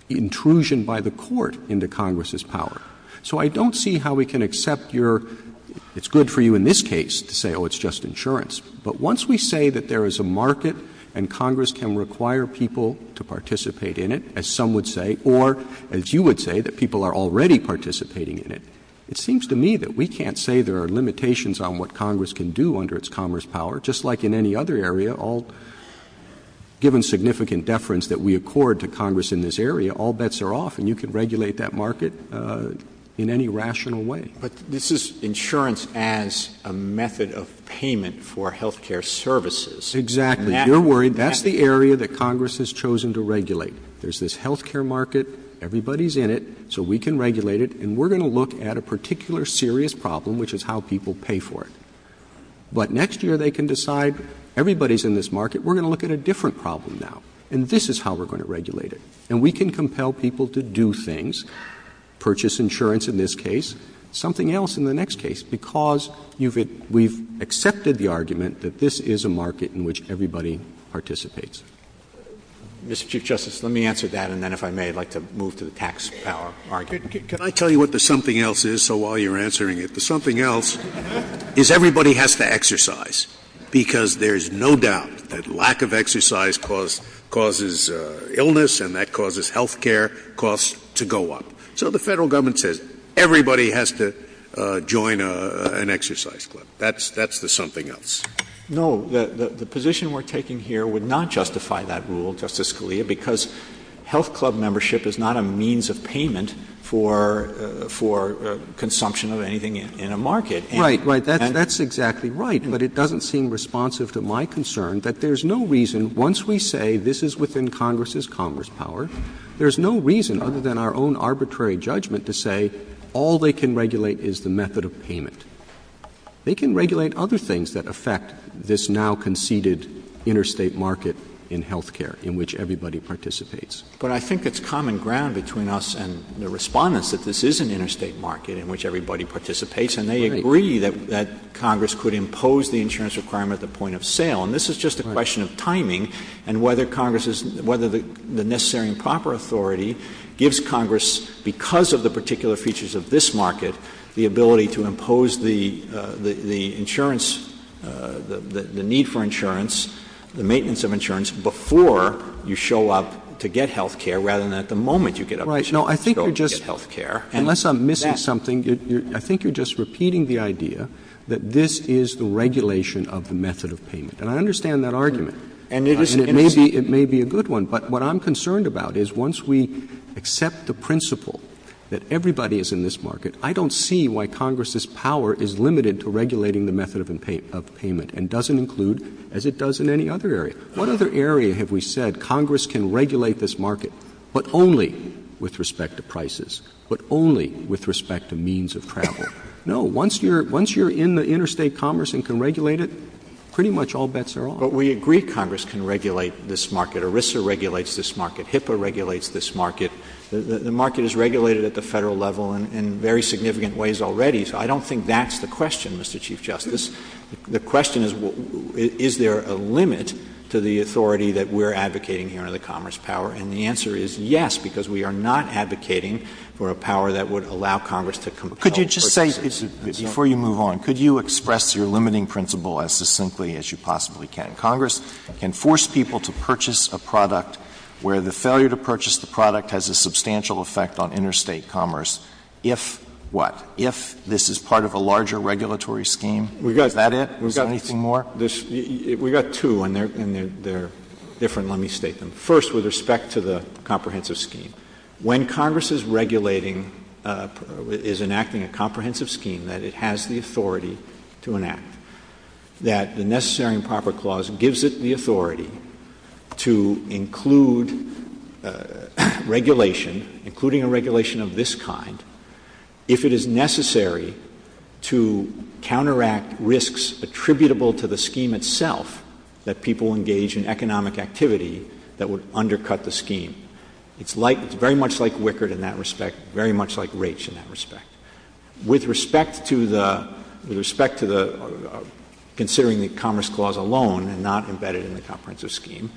intrusion by the Court into Congress's power. So I don't see how we can accept your — it's good for you in this case to say, oh, it's just insurance. But once we say that there is a market and Congress can require people to participate in it, as some would say, or as you would say, that people are already participating in it, it seems to me that we can't say there are limitations on what Congress can do under its commerce power, just like in any other area, all — given significant deference that we accord to Congress in this area, all bets are off, and you can regulate that market in any rational way. But this is insurance as a method of payment for health care services. Exactly. You're worried — that's the area that Congress has chosen to regulate. There's this health care market, everybody's in it, so we can regulate it, and we're going to look at a particular serious problem, which is how people pay for it. But next year they can decide, everybody's in this market, we're going to look at a different problem now, and this is how we're going to regulate it. And we can compel people to do things, purchase insurance in this case, something else in the next case, because we've accepted the argument that this is a market in which everybody participates. Mr. Chief Justice, let me answer that, and then if I may, I'd like to move to the tax power argument. Can I tell you what the something else is, so while you're answering it? The something else is everybody has to exercise, because there's no doubt that lack of exercise causes illness, and that causes health care costs to go up. So the federal government says everybody has to join an exercise club. That's the something else. No, the position we're taking here would not justify that rule, Justice Scalia, because health club membership is not a means of payment for consumption of anything in a market. That's exactly right, but it doesn't seem responsive to my concern that there's no reason, once we say this is within Congress's Congress power, there's no reason other than our own arbitrary judgment to say all they can regulate is the method of payment. They can regulate other things that affect this now conceded interstate market in health care, in which everybody participates. But I think it's common ground between us and the respondents that this is an interstate market in which everybody participates, and they agree that Congress could impose the insurance requirement at the point of sale, and this is just a question of timing, and whether the necessary and proper authority gives Congress, because of the particular features of this market, the ability to impose the insurance, the need for insurance, the maintenance of insurance before you show up to get health care rather than at the moment you get up to show up to get health care. Unless I'm missing something, I think you're just repeating the idea that this is the regulation of the method of payment, and I understand that argument. It may be a good one. But what I'm concerned about is once we accept the principle that everybody is in this market, I don't see why Congress's power is limited to regulating the method of payment and doesn't include as it does in any other area. What other area have we said Congress can regulate this market, but only with respect to prices, but only with respect to means of travel? No, once you're in the interstate commerce and can regulate it, pretty much all bets are off. But we agree Congress can regulate this market. ERISA regulates this market. HIPAA regulates this market. The market is regulated at the federal level in very significant ways already, so I don't think that's the question, Mr. Chief Justice. The question is, is there a limit to the authority that we're advocating here in the commerce power? And the answer is yes, because we are not advocating for a power that would allow Congress to comply. Could you just say, before you move on, could you express your limiting principle as succinctly as you possibly can? Congress can force people to purchase a product where the failure to purchase the product has a substantial effect on interstate commerce if what? If this is part of a larger regulatory scheme? Is that it? Is there anything more? We've got two, and they're different. Let me state them. First, with respect to the comprehensive scheme, when Congress is regulating, is enacting a comprehensive scheme that it has the authority to enact, that the Necessary and Proper Clause gives it the authority to include regulation, including a regulation of this kind, if it is necessary to counteract risks attributable to the scheme itself that people engage in economic activity that would undercut the scheme, it's very much like Wickard in that respect, very much like Raich in that respect. With respect to considering the Commerce Clause alone and not embedded in the comprehensive scheme,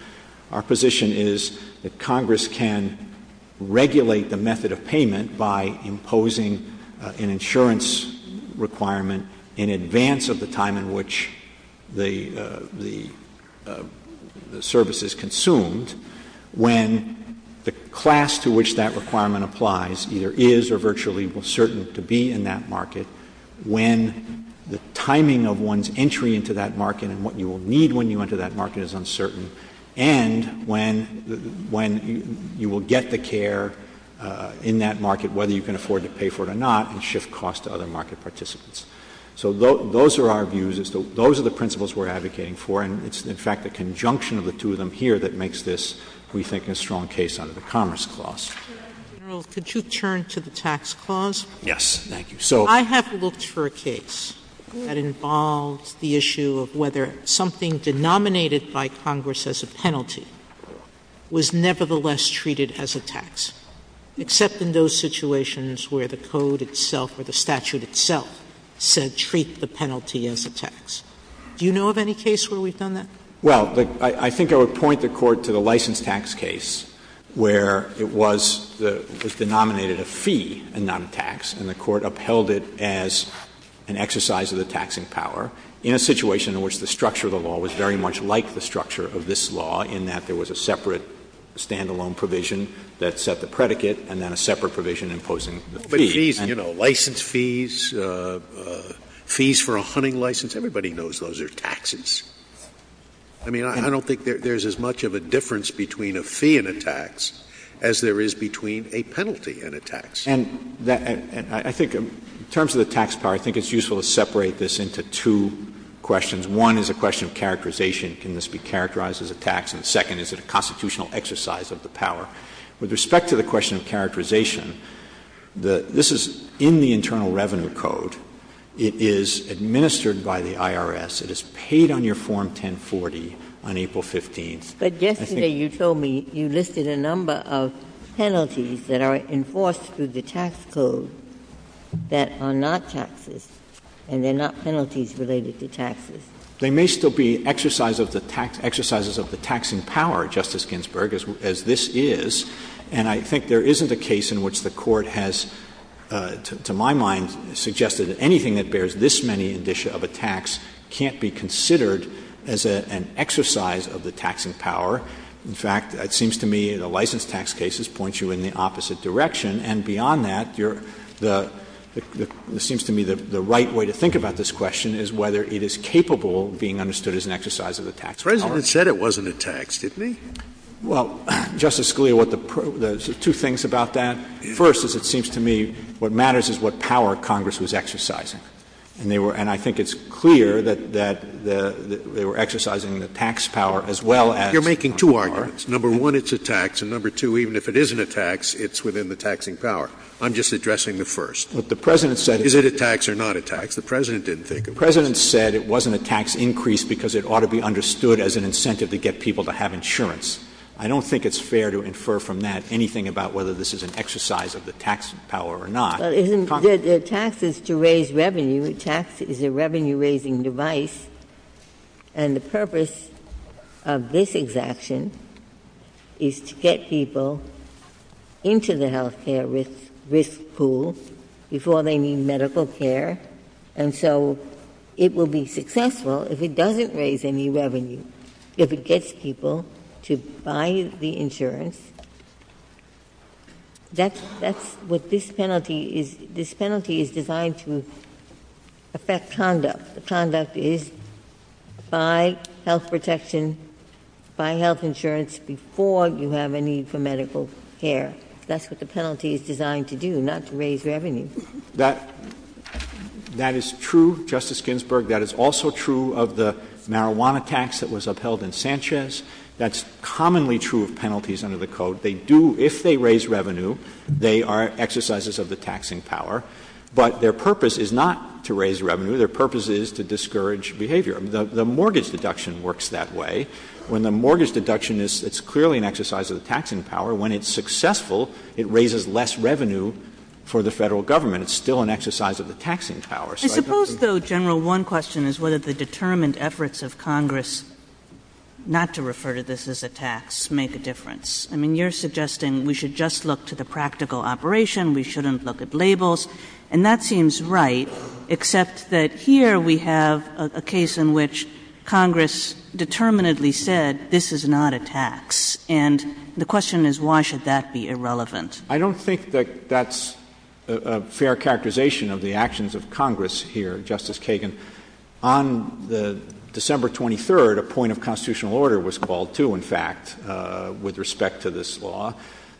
our position is that Congress can regulate the method of payment by imposing an insurance requirement in advance of the time in which the service is consumed when the class to which that requirement applies either is or virtually will certainly be in that market, when the timing of one's entry into that market and what you will need when you enter that market is uncertain, and when you will get the care in that market, whether you can afford to pay for it or not, and shift costs to other market participants. So those are our views. Those are the principles we're advocating for. And it's, in fact, the conjunction of the two of them here that makes this, we think, a strong case under the Commerce Clause. JUSTICE SOTOMAYOR. General, could you turn to the Tax Clause? CHIEF JUSTICE ROBERTS. Yes, thank you. JUSTICE SOTOMAYOR. I have looked for a case that involved the issue of whether something denominated by Congress as a penalty was nevertheless treated as a tax, except in those situations where the Code itself or the statute itself said treat the penalty as a tax. Do you know of any case where we've done that? CHIEF JUSTICE ROBERTS. Well, I think I would point the Court to the license tax case, where it was, it was denominated a fee and not a tax, and the Court upheld it as an exercise of the taxing power, in a situation in which the structure of the law was very much like the structure of this law, in that there was a separate stand-alone provision that set the predicate, and then a separate provision imposing the fee. And, you know, license fees, fees for a hunting license, everybody knows those are taxes. I mean, I don't think there's as much of a difference between a fee and a tax as there is between a penalty and a tax. CHIEF JUSTICE ROBERTS. And I think in terms of the tax power, I think it's useful to separate this into two questions. One is a question of characterization. Can this be characterized as a tax? And the second, is it a constitutional exercise of the power? With respect to the question of characterization, this is in the Internal Revenue Code. It is administered by the IRS. It is paid on your Form 1040 on April 15th. JUSTICE GINSBURG. But yesterday you told me you listed a number of penalties that are enforced through the tax code that are not taxes, and they're not penalties related to taxes. CHIEF JUSTICE ROBERTS. They may still be exercises of the taxing power, Justice Ginsburg, as this is. And I think there isn't a case in which the Court has, to my mind, suggested that anything that bears this many addition of a tax can't be considered as an exercise of the taxing power. In fact, it seems to me the license tax cases point you in the opposite direction. And beyond that, it seems to me the right way to think about this question is whether it is capable of being understood as an exercise of the tax power. JUSTICE SCALIA. The President said it wasn't a tax, didn't he? CHIEF JUSTICE ROBERTS. Well, Justice Scalia, there's two things about that. First is it seems to me what matters is what power Congress was exercising. And I think it's clear that they were exercising the tax power as well as the tax power. JUSTICE SCALIA. You're making two arguments. Number one, it's a tax. And number two, even if it isn't a tax, it's within the taxing power. I'm just addressing the first. CHIEF JUSTICE ROBERTS. Look, the President said it wasn't a tax. JUSTICE SCALIA. Is it a tax or not a tax? The President didn't think it was. CHIEF JUSTICE ROBERTS. The President said it wasn't a tax increase because it ought to be understood as an incentive to get people to have insurance. I don't think it's fair to infer from that anything about whether this is an exercise of the tax power or not. JUSTICE GINSBURG. The tax is to raise revenue. A tax is a revenue-raising device. And the purpose of this exemption is to get people into the health care risk pool before they need medical care. And so it will be successful if it doesn't raise any revenue. If it gets people to buy the insurance, that's what this penalty is. This penalty is designed to affect conduct. The conduct is buy health protection, buy health insurance before you have a need for medical care. That's what the penalty is designed to do, not to raise revenue. That is true, Justice Ginsburg. That is also true of the marijuana tax that was upheld in Sanchez. That's commonly true of penalties under the Code. They do, if they raise revenue, they are exercises of the taxing power. But their purpose is not to raise revenue. Their purpose is to discourage behavior. I mean, the mortgage deduction works that way. When the mortgage deduction is clearly an exercise of the taxing power, when it's successful, it raises less revenue for the federal government. It's still an exercise of the taxing power. I suppose, though, General, one question is whether the determined efforts of Congress not to refer to this as a tax make a difference. I mean, you're suggesting we should just look to the practical operation, we shouldn't look at labels. And that seems right, except that here we have a case in which Congress determinately said this is not a tax. And the question is why should that be irrelevant? I don't think that that's a fair characterization of the actions of Congress here, Justice Kagan. On December 23rd, a point of constitutional order was called, too, in fact, with respect to this law.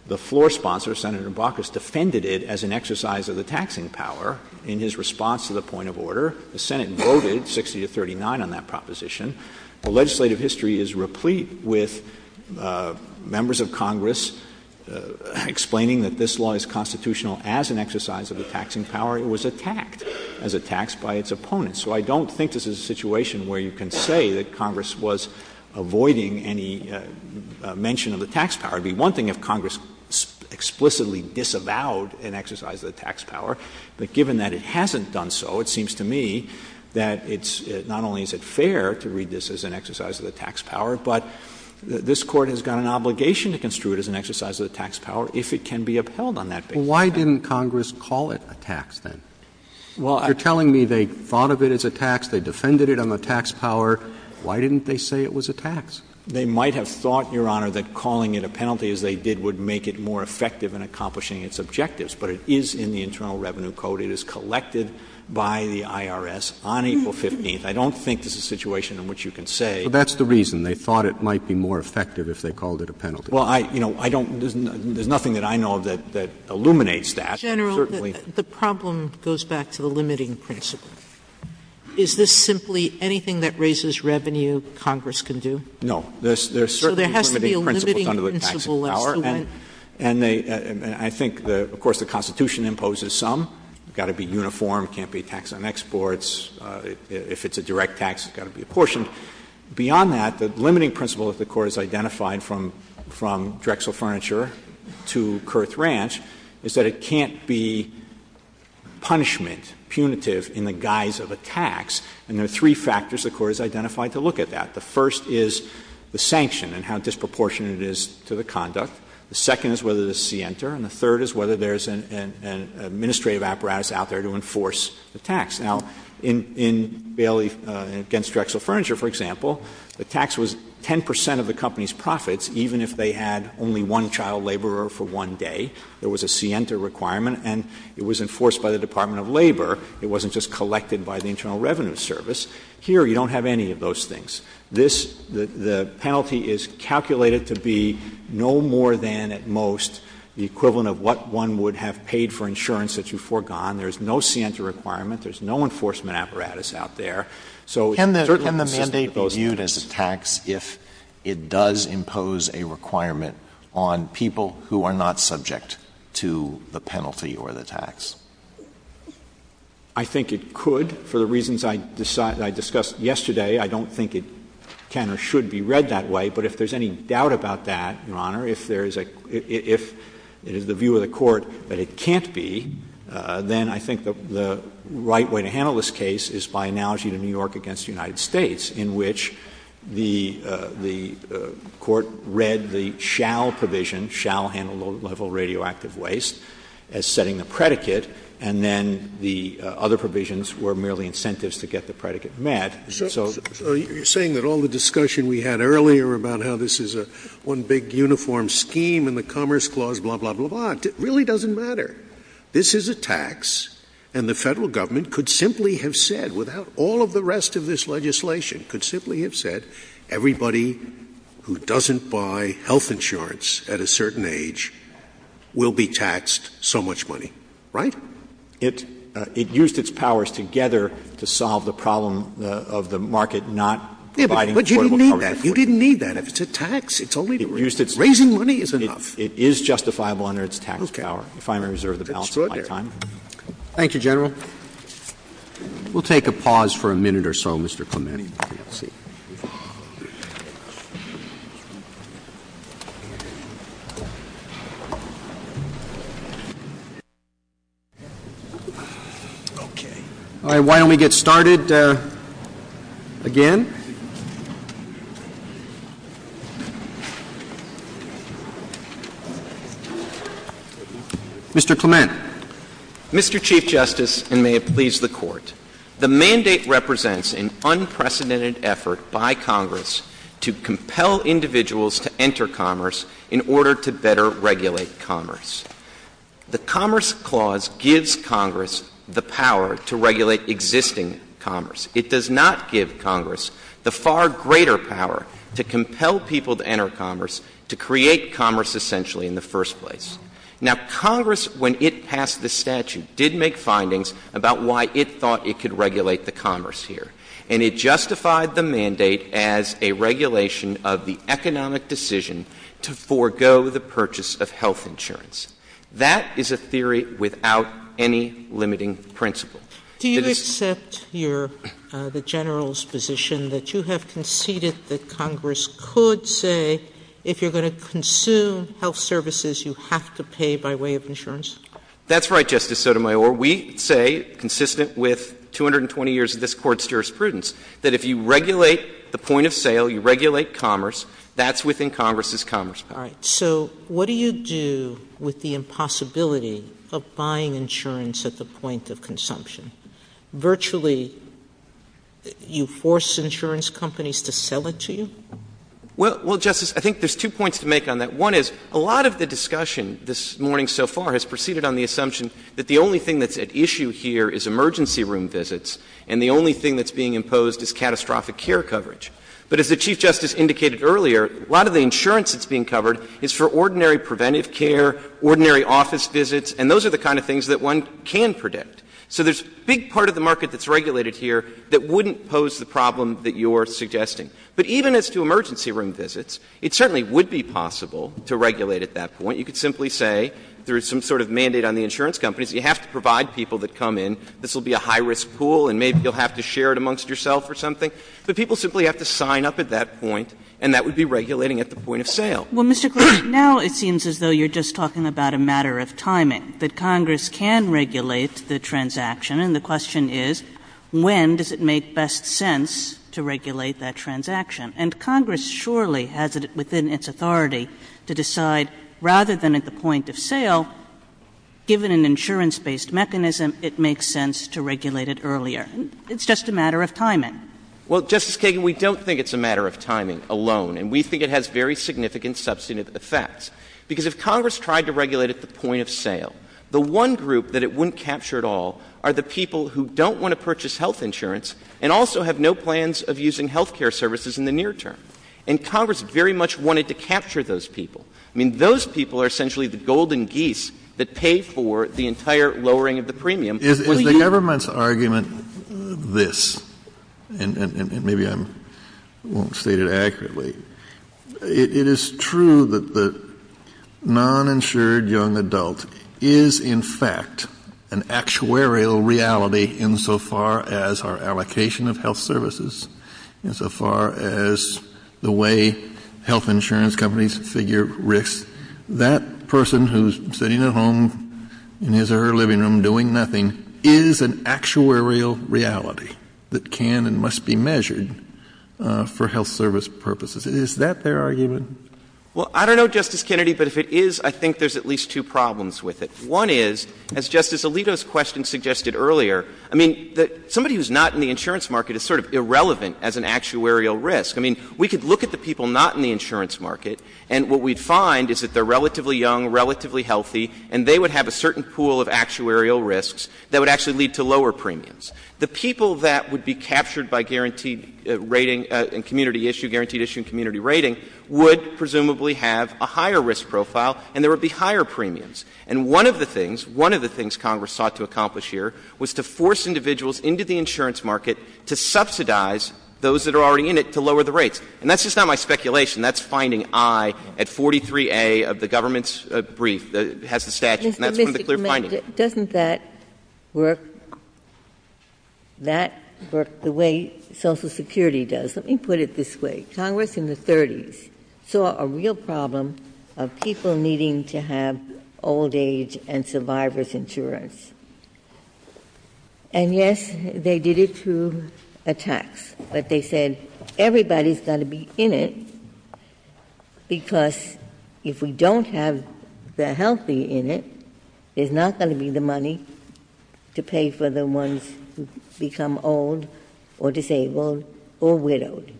The floor sponsor, Senator Baucus, defended it as an exercise of the taxing power in his response to the point of order. The Senate voted 60 to 39 on that proposition. The legislative history is replete with members of Congress explaining that this law is constitutional as an exercise of the taxing power. It was attacked as a tax by its opponents. So I don't think this is a situation where you can say that Congress was avoiding any mention of the tax power. It would be one thing if Congress explicitly disavowed an exercise of the tax power, but But this Court has got an obligation to construe it as an exercise of the tax power if it can be upheld on that basis. Well, why didn't Congress call it a tax then? Well, you're telling me they thought of it as a tax, they defended it on the tax power. Why didn't they say it was a tax? They might have thought, Your Honor, that calling it a penalty as they did would make it more effective in accomplishing its objectives. But it is in the Internal Revenue Code. It is collected by the IRS on April 15th. I don't think it's a situation in which you can say But that's the reason. They thought it might be more effective if they called it a penalty. Well, there's nothing that I know that illuminates that. General, the problem goes back to the limiting principle. Is this simply anything that raises revenue Congress can do? No. There are certain limiting principles under the taxing power. And I think, of course, the Constitution imposes some. It's got to be uniform. It can't be tax on exports. If it's a direct tax, it's got to be apportioned. Beyond that, the limiting principle that the Court has identified from Drexel Furniture to Kurth Ranch is that it can't be punishment, punitive in the guise of a tax. And there are three factors the Court has identified to look at that. The first is the sanction and how disproportionate it is to the conduct. The second is whether there's a scienter. And the third is whether there's an administrative apparatus out there to enforce the tax. Now, in Bailey against Drexel Furniture, for example, the tax was 10 percent of the company's profits, even if they had only one child laborer for one day. There was a scienter requirement, and it was enforced by the Department of Labor. It wasn't just collected by the Internal Revenue Service. Here, you don't have any of those things. The penalty is calculated to be no more than, at most, the equivalent of what one would have paid for insurance that you've foregone. There's no scienter requirement. There's no enforcement apparatus out there. So it's certainly a mandate that was viewed as a tax if it does impose a requirement on people who are not subject to the penalty or the tax. I think it could, for the reasons I discussed yesterday. I don't think it can or should be read that way. But if there's any doubt about that, Your Honor, if it is the view of the Court that it can't be, then I think that the right way to handle this case is by analogy to New York against the United States, in which the Court read the shall provision, shall handle low-level radioactive waste, as setting the predicate, and then the other provisions were merely incentives to get the predicate met. So you're saying that all the discussion we had earlier about how this is one big uniform scheme and the Commerce Clause, blah, blah, blah, blah, but it really doesn't matter. This is a tax, and the federal government could simply have said, without all of the rest of this legislation, could simply have said, everybody who doesn't buy health insurance at a certain age will be taxed so much money. Right? It used its powers together to solve the problem of the market not providing affordable health insurance. But you didn't need that. You didn't need that. It's a tax. It's only raising money is enough. It is justifiable under its tax power. If I may reserve the balance of my time. That's good. Thank you, General. We'll take a pause for a minute or so, Mr. Clement. Mr. Clement, Mr. Chief Justice, and may it please the Court, the mandate represents an unprecedented effort by Congress to compel individuals to enter commerce in order to better regulate commerce. The Commerce Clause gives Congress the power to regulate existing commerce. It does not give Congress the far greater power to compel people to enter commerce to create commerce essentially in the first place. Now, Congress, when it passed the statute, did make findings about why it thought it could regulate the commerce here. And it justified the mandate as a regulation of the economic decision to forego the purchase of health insurance. That is a theory without any limiting principle. Do you accept the General's position that you have conceded that Congress could say if you're going to consume health services, you have to pay by way of insurance? That's right, Justice Sotomayor. We say, consistent with 220 years of this Court's jurisprudence, that if you regulate the point of sale, you regulate commerce, that's within Congress's commerce power. All right. So what do you do with the impossibility of buying insurance at the point of consumption? Virtually, you force insurance companies to sell it to you? Well, Justice, I think there's two points to make on that. One is a lot of the discussion this morning so far has proceeded on the assumption that the only thing that's at issue here is emergency room visits, and the only thing that's being imposed is catastrophic care coverage. But as the Chief Justice indicated earlier, a lot of the insurance that's being covered is for ordinary preventive care, ordinary office visits, and those are the kind of things that one can predict. So there's a big part of the market that's regulated here that wouldn't pose the problem that you're suggesting. But even as to emergency room visits, it certainly would be possible to regulate at that point. You could simply say there is some sort of mandate on the insurance companies. You have to provide people that come in. This will be a high-risk pool, and maybe you'll have to share it amongst yourself or something. But people simply have to sign up at that point, and that would be regulating at the point of sale. Well, Mr. Gorsuch, now it seems as though you're just talking about a matter of timing, that Congress can regulate the transaction. And the question is, when does it make best sense to regulate that transaction? And Congress surely has it within its authority to decide, rather than at the point of sale, given an insurance-based mechanism, it makes sense to regulate it earlier. It's just a matter of timing. Well, Justice Kagan, we don't think it's a matter of timing alone, and we think it has very significant substantive effects. Because if Congress tried to regulate at the point of sale, the one group that it wouldn't capture at all are the people who don't want to purchase health insurance and also have no plans of using health care services in the near term. And Congress very much wanted to capture those people. I mean, those people are essentially the golden geese that pay for the entire lowering of the premium. If the government's argument is this, and maybe I won't state it accurately, it is true that the non-insured young adult is in fact an actuarial reality insofar as our allocation of health services, insofar as the way health insurance companies figure risk, that person who's sitting at home in his or her living room doing nothing is an actuarial reality that can and must be measured for health service purposes. Is that their argument? Well, I don't know, Justice Kennedy, but if it is, I think there's at least two problems with it. One is, as Justice Alito's question suggested earlier, I mean, somebody who's not in the insurance market is sort of irrelevant as an actuarial risk. I mean, we could look at the people not in the insurance market, and what we'd find is that they're relatively young, relatively healthy, and they would have a certain pool of actuarial risks that would actually lead to lower premiums. The people that would be captured by guaranteed rating and community issue, guaranteed issue and community rating, would presumably have a higher risk profile, and there would be higher premiums. And one of the things, one of the things Congress sought to accomplish here was to force individuals into the insurance market to subsidize those that are already in it to lower the rates. And that's just not my speculation. That's finding I at 43A of the government's brief that has the statute, and that's one of the clear findings. Mr. Chairman, doesn't that work the way Social Security does? Let me put it this way. Congress in the 30s saw a real problem of people needing to have old age and survivor's insurance. And yes, they did it through a tax, but they said everybody's got to be in it because if we don't have the healthy in it, there's not going to be the money to pay for the ones who become old or disabled or widowed.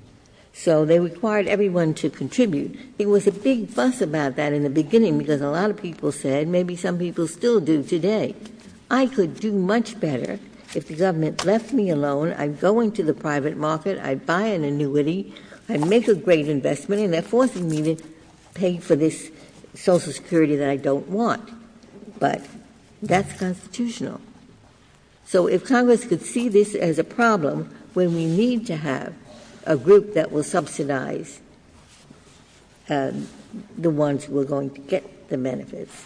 So they required everyone to contribute. It was a big fuss about that in the beginning because a lot of people said maybe some people still do today. I could do much better if the government left me alone. I'd go into the private market, I'd buy an annuity, I'd make a great investment, and they're forcing me to pay for this Social Security that I don't want. But that's constitutional. So if Congress could see this as a problem when we need to have a group that will subsidize the ones who are going to get the benefits,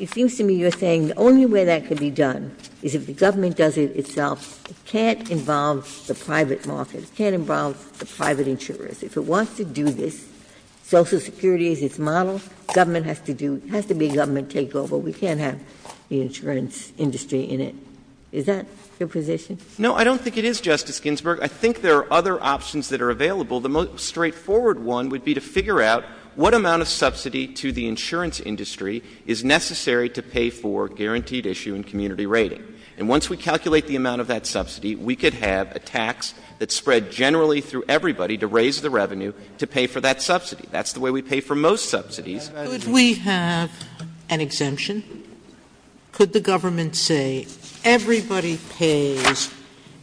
it seems to me you're saying the only way that could be done is if the government does it itself. It can't involve the private market. It can't involve the private insurers. If it wants to do this, Social Security is its model. Government has to be government takeover. We can't have the insurance industry in it. Is that the position? No, I don't think it is, Justice Ginsburg. I think there are other options that are available. The most straightforward one would be to figure out what amount of subsidy to the insurance industry is necessary to pay for guaranteed issue and community rating. And once we calculate the amount of that subsidy, we could have a tax that's spread generally through everybody to raise the revenue to pay for that subsidy. That's the way we pay for most subsidies. Could we have an exemption? Could the government say everybody pays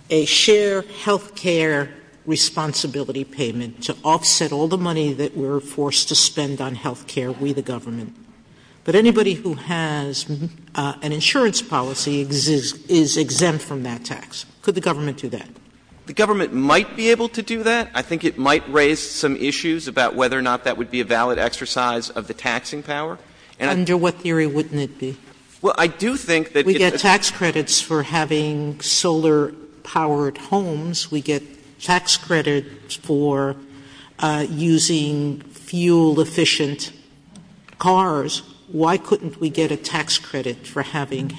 a share of health care responsibility payment to offset all the money that we're forced to spend on health care, we the government. But anybody who has an insurance policy is exempt from that tax. Could the government do that? The government might be able to do that. I think it might raise some issues about whether or not that would be a valid exercise of the taxing power. Under what theory wouldn't it be? Well, I do think that... We get tax credits for having solar-powered homes. We get tax credits for using fuel-efficient cars. Why couldn't we get a tax credit for having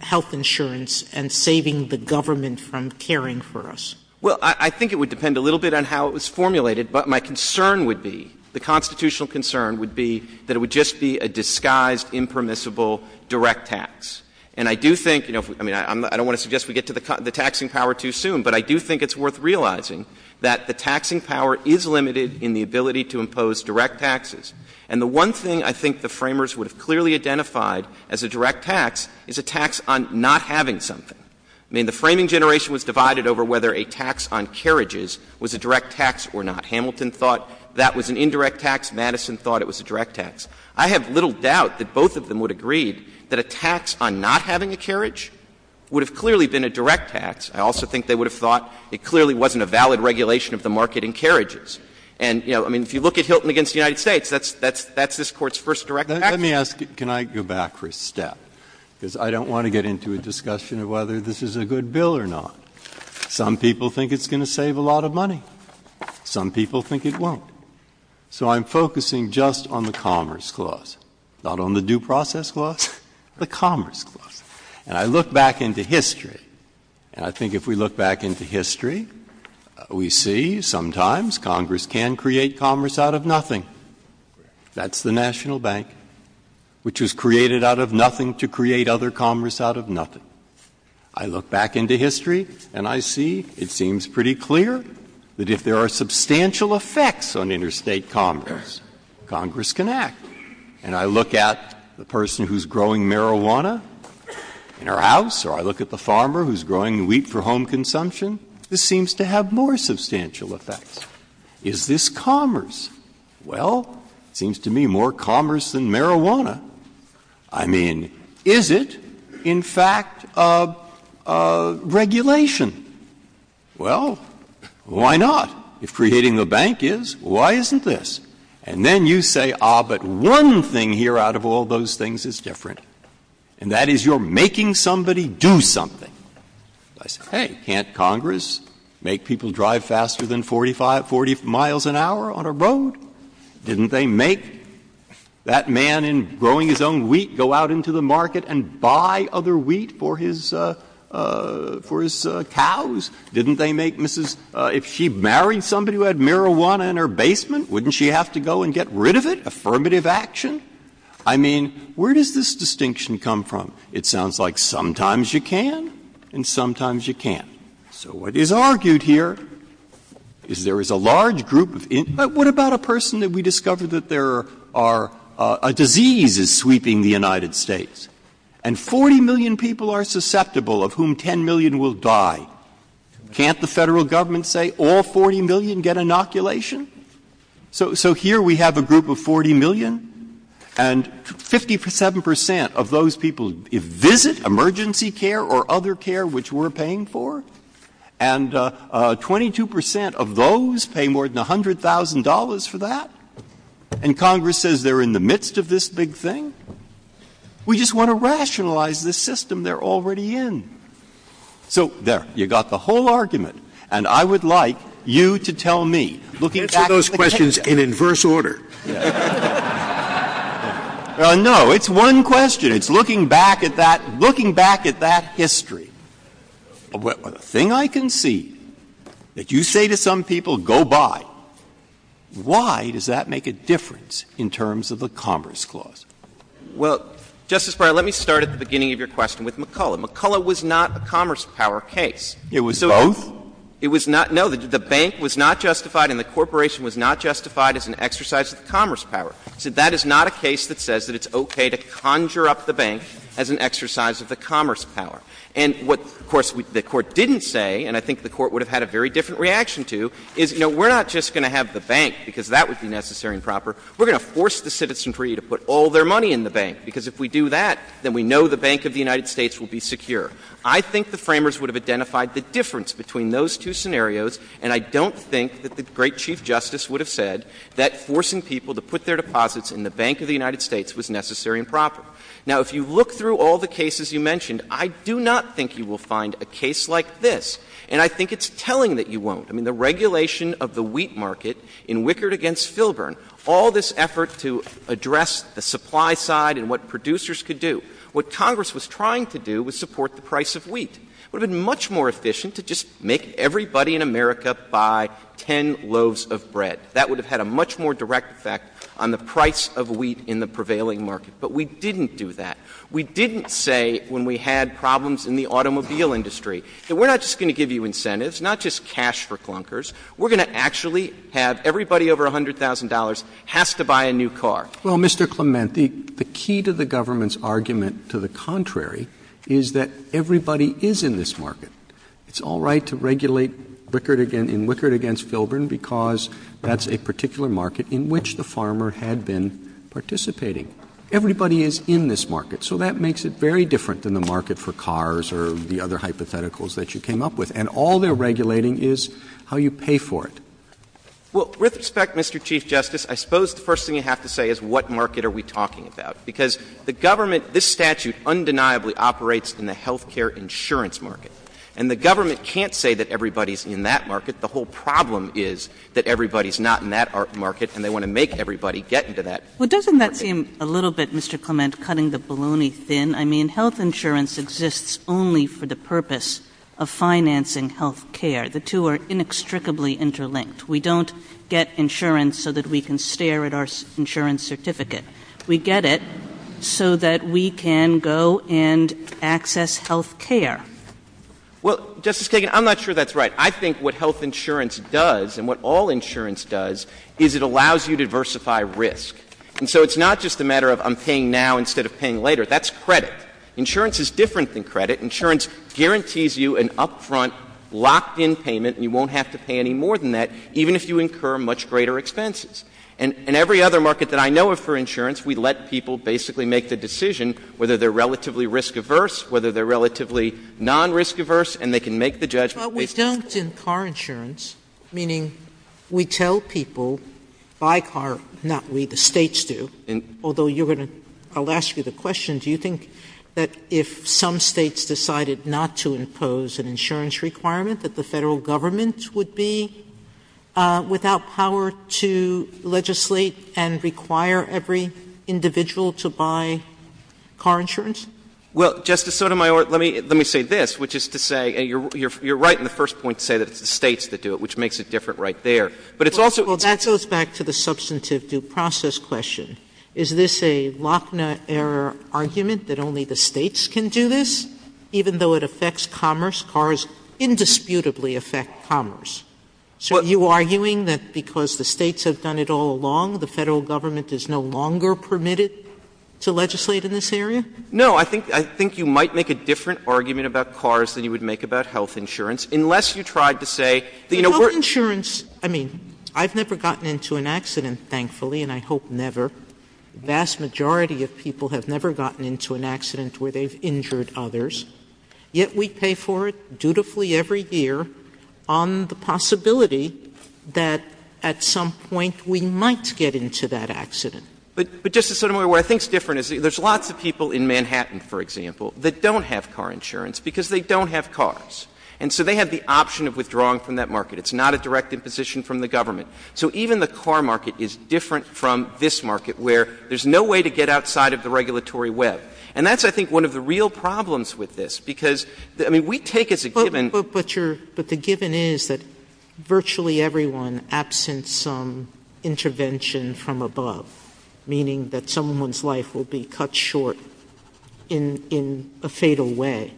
health insurance and saving the government from caring for us? Well, I think it would depend a little bit on how it was formulated, but my concern would be that it would just be a disguised, impermissible direct tax. And I do think... I mean, I don't want to suggest we get to the taxing power too soon, but I do think it's worth realizing that the taxing power is limited in the ability to impose direct taxes. And the one thing I think the framers would have clearly identified as a direct tax is a tax on not having something. I mean, the framing generation was divided over whether a tax on carriages was a direct tax or not. Hamilton thought that was an indirect tax. Madison thought it was a direct tax. I have little doubt that both of them would agree that a tax on not having a carriage would have clearly been a direct tax. I also think they would have thought it clearly wasn't a valid regulation of the market in carriages. And, you know, I mean, if you look at Hilton against the United States, that's this Court's first direct tax. Let me ask... Can I go back for a step? Because I don't want to get into a discussion of whether this is a good bill or not. Some people think it's going to save a lot of money. Some people think it won't. So I'm focusing just on the Commerce Clause, not on the Due Process Clause, the Commerce Clause. And I look back into history. And I think if we look back into history, we see sometimes Congress can create commerce out of nothing. That's the National Bank, which was created out of nothing to create other commerce out of nothing. I look back into history, and I see it seems pretty clear that if there are substantial effects on interstate commerce, Congress can act. And I look at the person who's growing marijuana in her house, or I look at the farmer who's growing wheat for home consumption. This seems to have more substantial effects. Is this commerce? Well, it seems to me more commerce than marijuana. I mean, is it in fact a regulation? Well, why not? If creating the bank is, why isn't this? And then you say, ah, but one thing here out of all those things is different. And that is you're making somebody do something. I say, hey, can't Congress make people drive faster than 45, 40 miles an hour on a road? Didn't they make that man in growing his own wheat go out into the market and buy other wheat for his cows? Didn't they make Mrs. If she married somebody who had marijuana in her basement, wouldn't she have to go and get rid of it? Affirmative action? I mean, where does this distinction come from? It sounds like sometimes you can, and sometimes you can't. So what is argued here is there is a large group of, what about a person that we discovered that there are, a disease is sweeping the United States, and 40 million people are susceptible of whom 10 million will die. Can't the federal government say all 40 million get inoculation? So here we have a group of 40 million, and 57% of those people visit emergency care or other care which we're paying for. And 22% of those pay more than $100,000 for that. And Congress says they're in the midst of this big thing. We just want to rationalize the system they're already in. So there, you got the whole argument. And I would like you to tell me. Answer those questions in inverse order. No, it's one question. And it's looking back at that history, the thing I can see that you say to some people, go buy, why does that make a difference in terms of the Commerce Clause? Well, Justice Breyer, let me start at the beginning of your question with McCulloch. McCulloch was not a commerce power case. It was both? No, the bank was not justified, and the corporation was not justified as an exercise of commerce power. So that is not a case that says that it's okay to conjure up the bank as an exercise of the commerce power. And what, of course, the Court didn't say, and I think the Court would have had a very different reaction to, is, you know, we're not just going to have the bank because that would be necessary and proper. We're going to force the citizenry to put all their money in the bank, because if we do that, then we know the Bank of the United States will be secure. I think the framers would have identified the difference between those two scenarios, and I don't think that the great Chief Justice would have said that forcing people to put their deposits in the Bank of the United States was necessary and proper. Now, if you look through all the cases you mentioned, I do not think you will find a case like this, and I think it's telling that you won't. I mean, the regulation of the wheat market in Wickard against Filburn, all this effort to address the supply side and what producers could do, what Congress was trying to do was support the price of wheat. It would have been much more efficient to just make everybody in America buy 10 loaves of bread. That would have had a much more direct effect on the price of wheat in the prevailing market. But we didn't do that. We didn't say, when we had problems in the automobile industry, that we're not just going to give you incentives, not just cash for clunkers, we're going to actually have everybody over $100,000 have to buy a new car. Well, Mr. Clement, the key to the government's argument to the contrary is that everybody is in this market. It's all right to regulate Wickard against Filburn because that's a particular market in which the farmer had been participating. Everybody is in this market. So that makes it very different than the market for cars or the other hypotheticals that you came up with. And all they're regulating is how you pay for it. Well, with respect, Mr. Chief Justice, I suppose the first thing you have to say is what market are we talking about? Because the government, this statute undeniably operates in the health care insurance market. And the government can't say that everybody's in that market. The whole problem is that everybody's not in that market, and they want to make everybody get into that market. Well, doesn't that seem a little bit, Mr. Clement, cutting the baloney thin? I mean, health insurance exists only for the purpose of financing health care. The two are inextricably interlinked. We don't get insurance so that we can stare at our insurance certificate. We get it so that we can go and access health care. Well, Justice Kagan, I'm not sure that's right. I think what health insurance does and what all insurance does is it allows you to diversify risk. And so it's not just a matter of I'm paying now instead of paying later. That's credit. Insurance is different than credit. Insurance guarantees you an upfront locked-in payment, and you won't have to pay any more than that, even if you incur much greater expenses. And every other market that I know of for insurance, we let people basically make the decision whether they're relatively risk-averse, whether they're relatively non-risk-averse, and they can make the judgment. But we don't in car insurance, meaning we tell people, buy car, not we, the states do, although you're going to — I'll ask you the question. Do you think that if some states decided not to impose an insurance requirement that the and require every individual to buy car insurance? Well, Justice Sotomayor, let me say this, which is to say you're right in the first point to say that it's the states that do it, which makes it different right there. But it's also — Well, that goes back to the substantive due process question. Is this a Lochner error argument that only the states can do this, even though it affects commerce? Cars indisputably affect commerce. So are you arguing that because the states have done it all along, the federal government is no longer permitted to legislate in this area? No, I think you might make a different argument about cars than you would make about health insurance, unless you tried to say — Health insurance, I mean, I've never gotten into an accident, thankfully, and I hope never. The vast majority of people have never gotten into an accident where they've injured others, yet we pay for it dutifully every year on the possibility that at some point we might get into that accident. But, Justice Sotomayor, what I think is different is there's lots of people in Manhattan, for example, that don't have car insurance because they don't have cars. And so they have the option of withdrawing from that market. It's not a directive position from the government. So even the car market is different from this market, where there's no way to get outside of the regulatory web. And that's, I think, one of the real problems with this, because, I mean, we take it as a given — But the given is that virtually everyone, absent some intervention from above, meaning that someone's life will be cut short in a fatal way,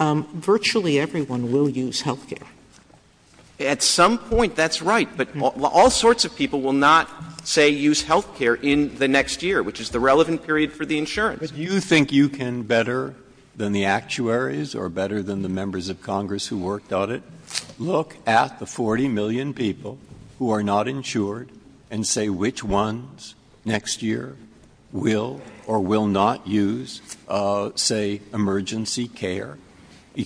virtually everyone will use health care. At some point, that's right. But all sorts of people will not, say, use health care in the next year, which is the relevant period for the insurance. Do you think you can, better than the actuaries or better than the members of Congress who worked on it, look at the 40 million people who are not insured and say which ones next year will or will not use, say, emergency care?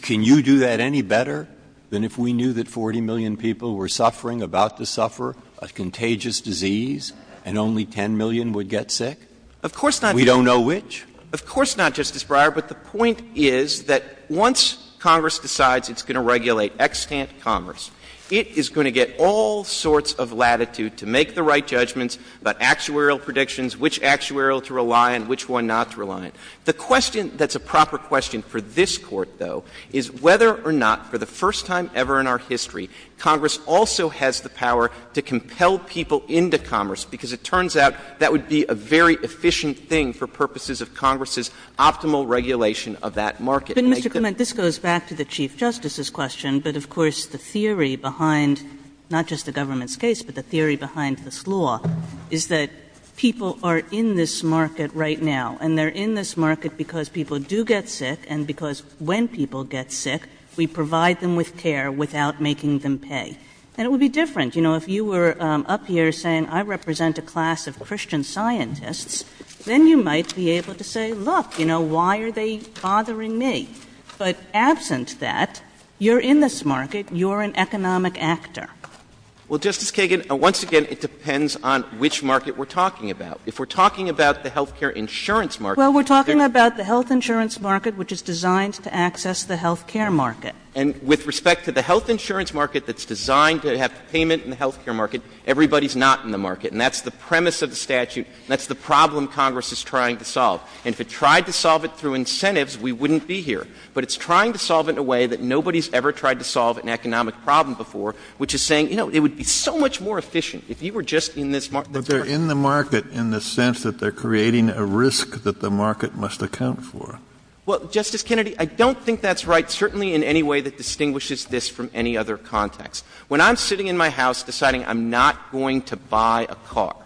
Can you do that any better than if we knew that 40 million people were suffering, about to suffer, a contagious disease, and only 10 million would get sick? Of course not. We don't know which? Of course not, Justice Breyer. But the point is that once Congress decides it's going to regulate extant commerce, it is going to get all sorts of latitude to make the right judgments about actuarial predictions, which actuarial to rely on, which one not to rely on. The question that's a proper question for this Court, though, is whether or not, for the first time ever in our history, Congress also has the power to compel people into commerce, because it turns out that would be a very efficient thing for purposes of Congress's optimal regulation of that market. But, Mr. Clement, this goes back to the Chief Justice's question, but, of course, the theory behind not just the government's case, but the theory behind this law is that people are in this market right now, and they're in this market because people do get sick, and because when people get sick, we provide them with care without making them pay. And it would be different. You know, if you were up here saying, I represent a class of Christian scientists, then you might be able to say, look, you know, why are they bothering me? But absent that, you're in this market. You're an economic actor. Well, Justice Kagan, once again, it depends on which market we're talking about. If we're talking about the health care insurance market... Well, we're talking about the health insurance market, which is designed to access the health care market. And with respect to the health insurance market that's designed to have payment in the health care market, everybody's not in the market. And that's the premise of the statute. That's the problem Congress is trying to solve. And if it tried to solve it through incentives, we wouldn't be here. But it's trying to solve it in a way that nobody's ever tried to solve an economic problem before, which is saying, you know, it would be so much more efficient if you were just in this market. But they're in the market in the sense that they're creating a risk that the market must account for. Well, Justice Kennedy, I don't think that's right certainly in any way that distinguishes this from any other context. When I'm sitting in my house deciding I'm not going to buy a car,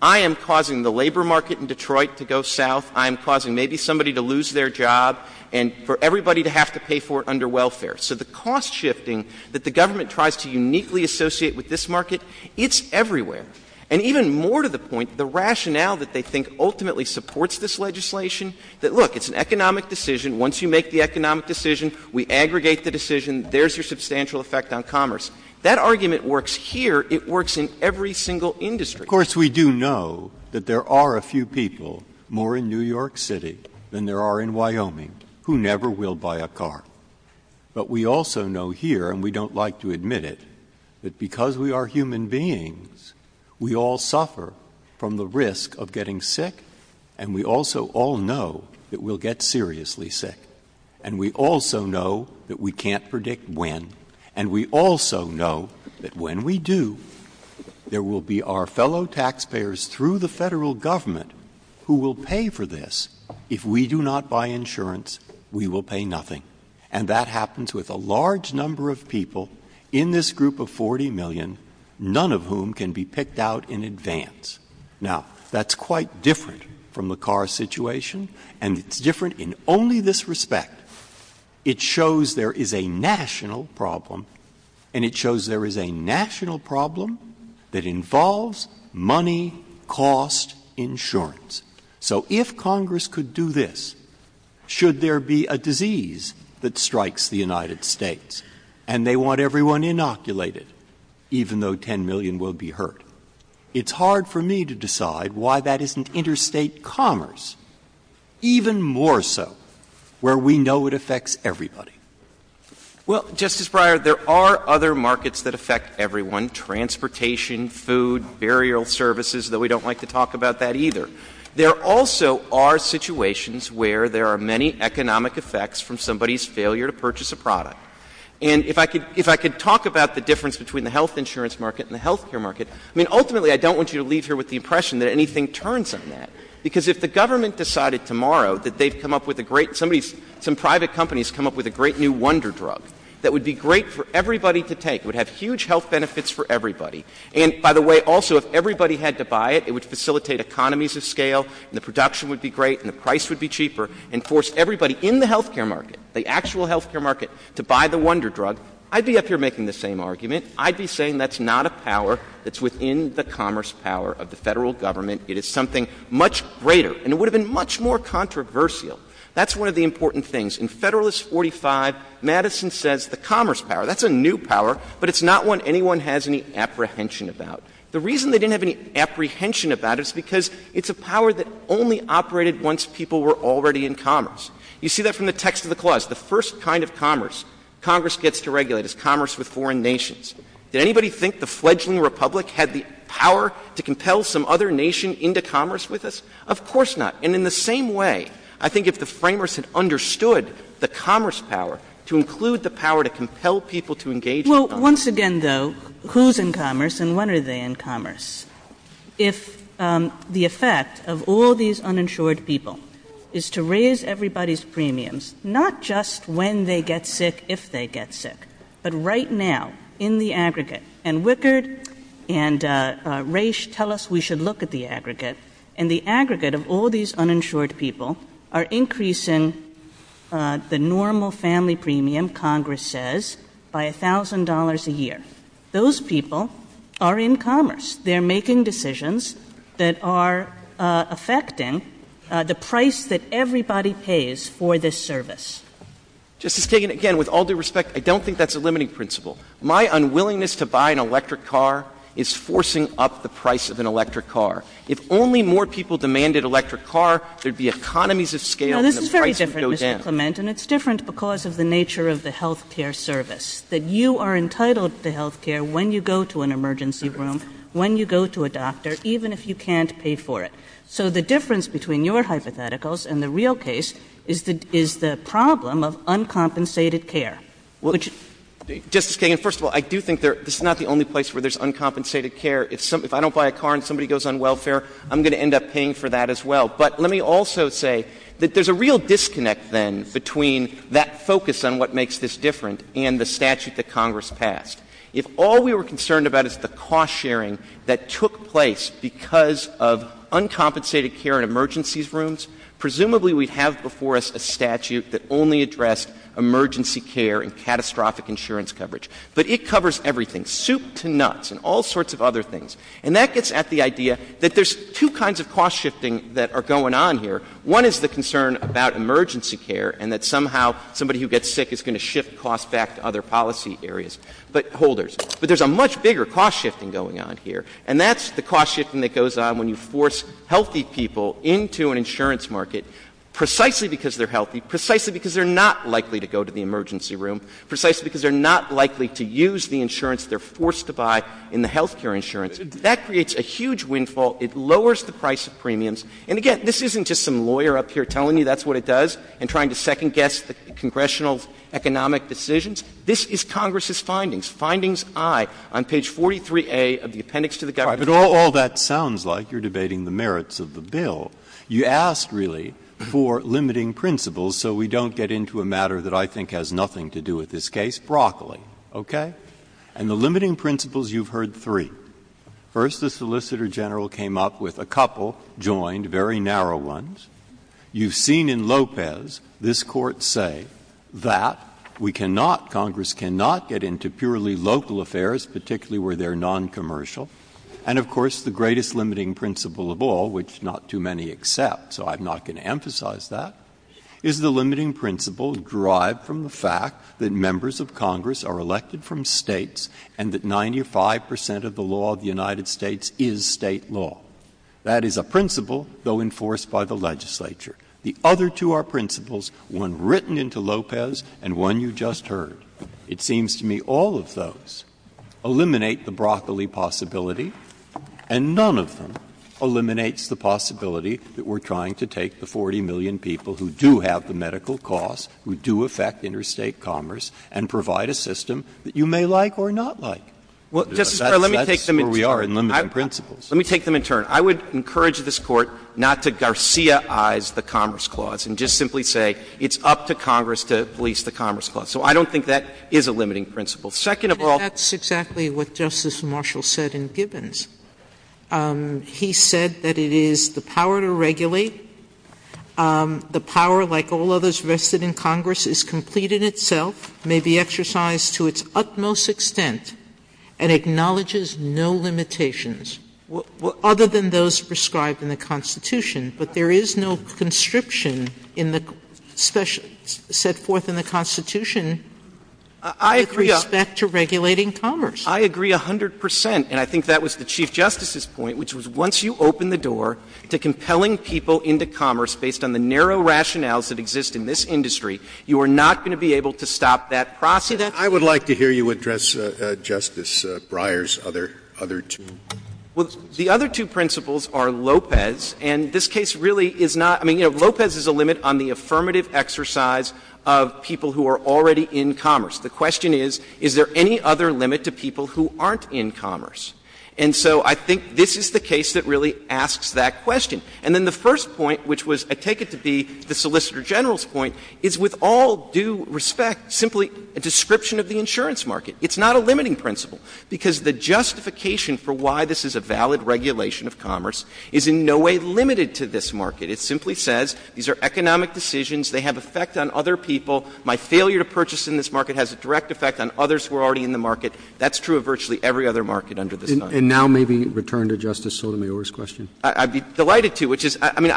I am causing the labor market in Detroit to go south. I am causing maybe somebody to lose their job and for everybody to have to pay for it under welfare. So the cost shifting that the government tries to uniquely associate with this market, it's everywhere. And even more to the point, the rationale that they think ultimately supports this legislation that, look, it's an economic decision. Once you make the economic decision, we aggregate the decision. There's your substantial effect on commerce. That argument works here. It works in every single industry. Of course, we do know that there are a few people more in New York City than there are in Wyoming who never will buy a car. But we also know here, and we don't like to admit it, that because we are human beings, we all suffer from the risk of getting sick, and we also all know that we'll get seriously sick. And we also know that we can't predict when. And we also know that when we do, there will be our fellow taxpayers through the federal government who will pay for this. If we do not buy insurance, we will pay nothing. And that happens with a large number of people in this group of 40 million, none of whom can be picked out in advance. Now, that's quite different from the car situation, and it's different in only this respect. It shows there is a national problem, and it shows there is a national problem that involves money, cost, insurance. So if Congress could do this, should there be a disease that strikes the United States, and they want everyone inoculated, even though 10 million will be hurt? It's hard for me to decide why that isn't interstate commerce, even more so, where we know it affects everybody. Well, Justice Breyer, there are other markets that affect everyone, transportation, food, burial services, though we don't like to talk about that either. There also are situations where there are many economic effects from somebody's failure to purchase a product. And if I could talk about the difference between the health insurance market and the health care market, I mean, ultimately, I don't want you to leave here with the impression that anything turns on that, because if the government decided tomorrow that they've come up with a great — some private companies come up with a great new wonder drug that would be great for everybody to take, would have huge health benefits for everybody, and, by the way, also, if everybody had to buy it, it would facilitate economies of scale, and the production would be great, and the price would be cheaper, and force everybody in the health care market to buy the wonder drug. I'd be up here making the same argument. I'd be saying that's not a power that's within the commerce power of the federal government. It is something much greater, and it would have been much more controversial. That's one of the important things. In Federalist 45, Madison says the commerce power, that's a new power, but it's not one anyone has any apprehension about. The reason they didn't have any apprehension about it is because it's a power that only operated once people were already in commerce. You see that from the text of the clause. The first kind of commerce Congress gets to regulate is commerce with foreign nations. Did anybody think the fledgling republic had the power to compel some other nation into commerce with us? Of course not. And in the same way, I think if the framers had understood the commerce power to include the power to compel people to engage — Well, once again, though, who's in commerce and when are they in commerce? If the effect of all these uninsured people is to raise everybody's premiums, not just when they get sick, if they get sick, but right now in the aggregate. And Wickard and Raich tell us we should look at the aggregate. And the aggregate of all these uninsured people are increasing the normal family premium, Congress says, by $1,000 a year. Those people are in commerce. They're making decisions that are affecting the price that everybody pays for this service. Justice Kagan, again, with all due respect, I don't think that's a limiting principle. My unwillingness to buy an electric car is forcing up the price of an electric car. If only more people demanded electric car, there'd be economies of scale and the price would go down. No, this is very different, Mr. Clement, and it's different because of the nature of the health care service, that you are entitled to health care when you go to an emergency room, when you go to a doctor, even if you can't pay for it. So the difference between your hypotheticals and the real case is the problem of uncompensated care. Justice Kagan, first of all, I do think this is not the only place where there's uncompensated care. If I don't buy a car and somebody goes on welfare, I'm going to end up paying for that as well. But let me also say that there's a real disconnect, then, between that focus on what makes this different and the statute that Congress passed. If all we were concerned about is the cost sharing that took place because of uncompensated care in emergency rooms, presumably we have before us a statute that only addressed emergency care and catastrophic insurance coverage. But it covers everything, soup to nuts and all sorts of other things. And that gets at the idea that there's two kinds of cost shifting that are going on here. One is the concern about emergency care and that somehow somebody who gets sick is going to shift costs back to other policy areas. But holders. But there's a much bigger cost shifting going on here. And that's the cost shifting that goes on when you force healthy people into an insurance market precisely because they're healthy, precisely because they're not likely to go to the emergency room, precisely because they're not likely to use the insurance they're forced to buy in the health care insurance. That creates a huge windfall. It lowers the price of premiums. And, again, this isn't just some lawyer up here telling you that's what it does and trying to second-guess the congressional economic decisions. This is Congress's findings. Findings, aye. On page 43A of the appendix to the government. All right. But all that sounds like you're debating the merits of the bill. You asked, really, for limiting principles so we don't get into a matter that I think has nothing to do with this case. Broccoli. Okay? And the limiting principles, you've heard three. First, the solicitor general came up with a couple, joined, very narrow ones. You've seen in Lopez this court say that we cannot, Congress cannot get into purely local affairs, particularly where they're noncommercial. And, of course, the greatest limiting principle of all, which not too many accept, so I'm not going to emphasize that, is the limiting principle derived from the fact that members of Congress are elected from states and that 95 percent of the law of the United States is state law. That is a principle, though enforced by the legislature. The other two are principles, one written into Lopez and one you just heard. It seems to me all of those eliminate the broccoli possibility, and none of them eliminates the possibility that we're trying to take the 40 million people who do have the medical costs, who do affect interstate commerce, and provide a system that you may like or not like. That's where we are in limiting principles. Let me take them in turn. I would encourage this Court not to Garcia-ize the Commerce Clause and just simply say it's up to Congress to release the Commerce Clause. So I don't think that is a limiting principle. Second of all — That's exactly what Justice Marshall said in Gibbons. He said that it is the power to regulate. The power, like all others vested in Congress, is complete in itself, may be exercised to its utmost extent, and acknowledges no limitations. Well, other than those prescribed in the Constitution. But there is no conscription set forth in the Constitution with respect to regulating commerce. I agree 100 percent. And I think that was the Chief Justice's point, which was once you open the door to compelling people into commerce based on the narrow rationales that exist in this industry, you are not going to be able to stop that process. I would like to hear you address Justice Breyer's other two. Well, the other two principles are Lopez. And this case really is not — I mean, you know, Lopez is a limit on the affirmative exercise of people who are already in commerce. The question is, is there any other limit to people who aren't in commerce? And so I think this is the case that really asks that question. And then the first point, which was — I take it to be the Solicitor General's point — is, with all due respect, simply a description of the insurance market. It's not a limiting principle, because the justification for why this is a valid regulation of commerce is in no way limited to this market. It simply says these are economic decisions. They have effect on other people. My failure to purchase in this market has a direct effect on others who are already in the market. That's true of virtually every other market under this Congress. And now maybe return to Justice Sotomayor's question. I'd be delighted to, which is — I mean,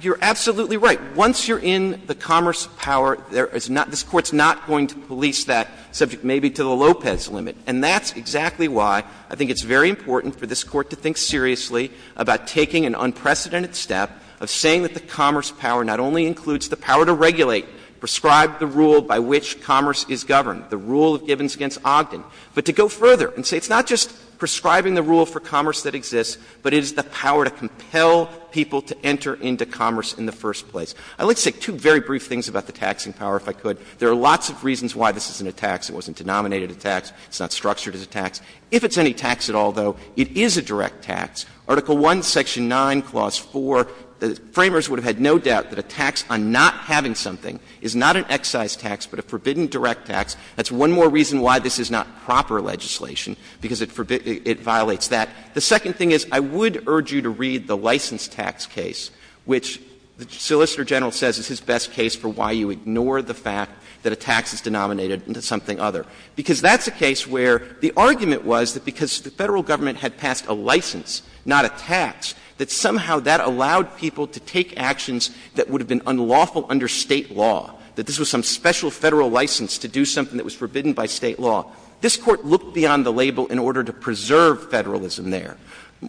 you're absolutely right. Once you're in the commerce power, this Court's not going to police that subject maybe to the Lopez limit. And that's exactly why I think it's very important for this Court to think seriously about taking an unprecedented step of saying that the commerce power not only includes the power to regulate, prescribe the rule by which commerce is governed, the rule of Gibbons against Ogden, but to go further and say it's not just prescribing the rule for commerce that exists, but it is the power to compel people to enter into commerce in the first place. I'd like to say two very brief things about the taxing power, if I could. There are lots of reasons why this isn't a tax. It wasn't denominated a tax. It's not structured as a tax. If it's any tax at all, though, it is a direct tax. Article I, Section 9, Clause 4 — framers would have had no doubt that a tax on not having something is not an excise tax, but a forbidden direct tax. That's one more reason why this is not proper legislation, because it violates that. The second thing is, I would urge you to read the license tax case, which the Solicitor General says is his best case for why you ignore the fact that a tax is denominated into something other, because that's a case where the argument was that because the federal government had passed a license, not a tax, that somehow that allowed people to take actions that would have been unlawful under state law, that this was some special federal license to do something that was forbidden by state law. This Court looked beyond the label in order to preserve federalism there.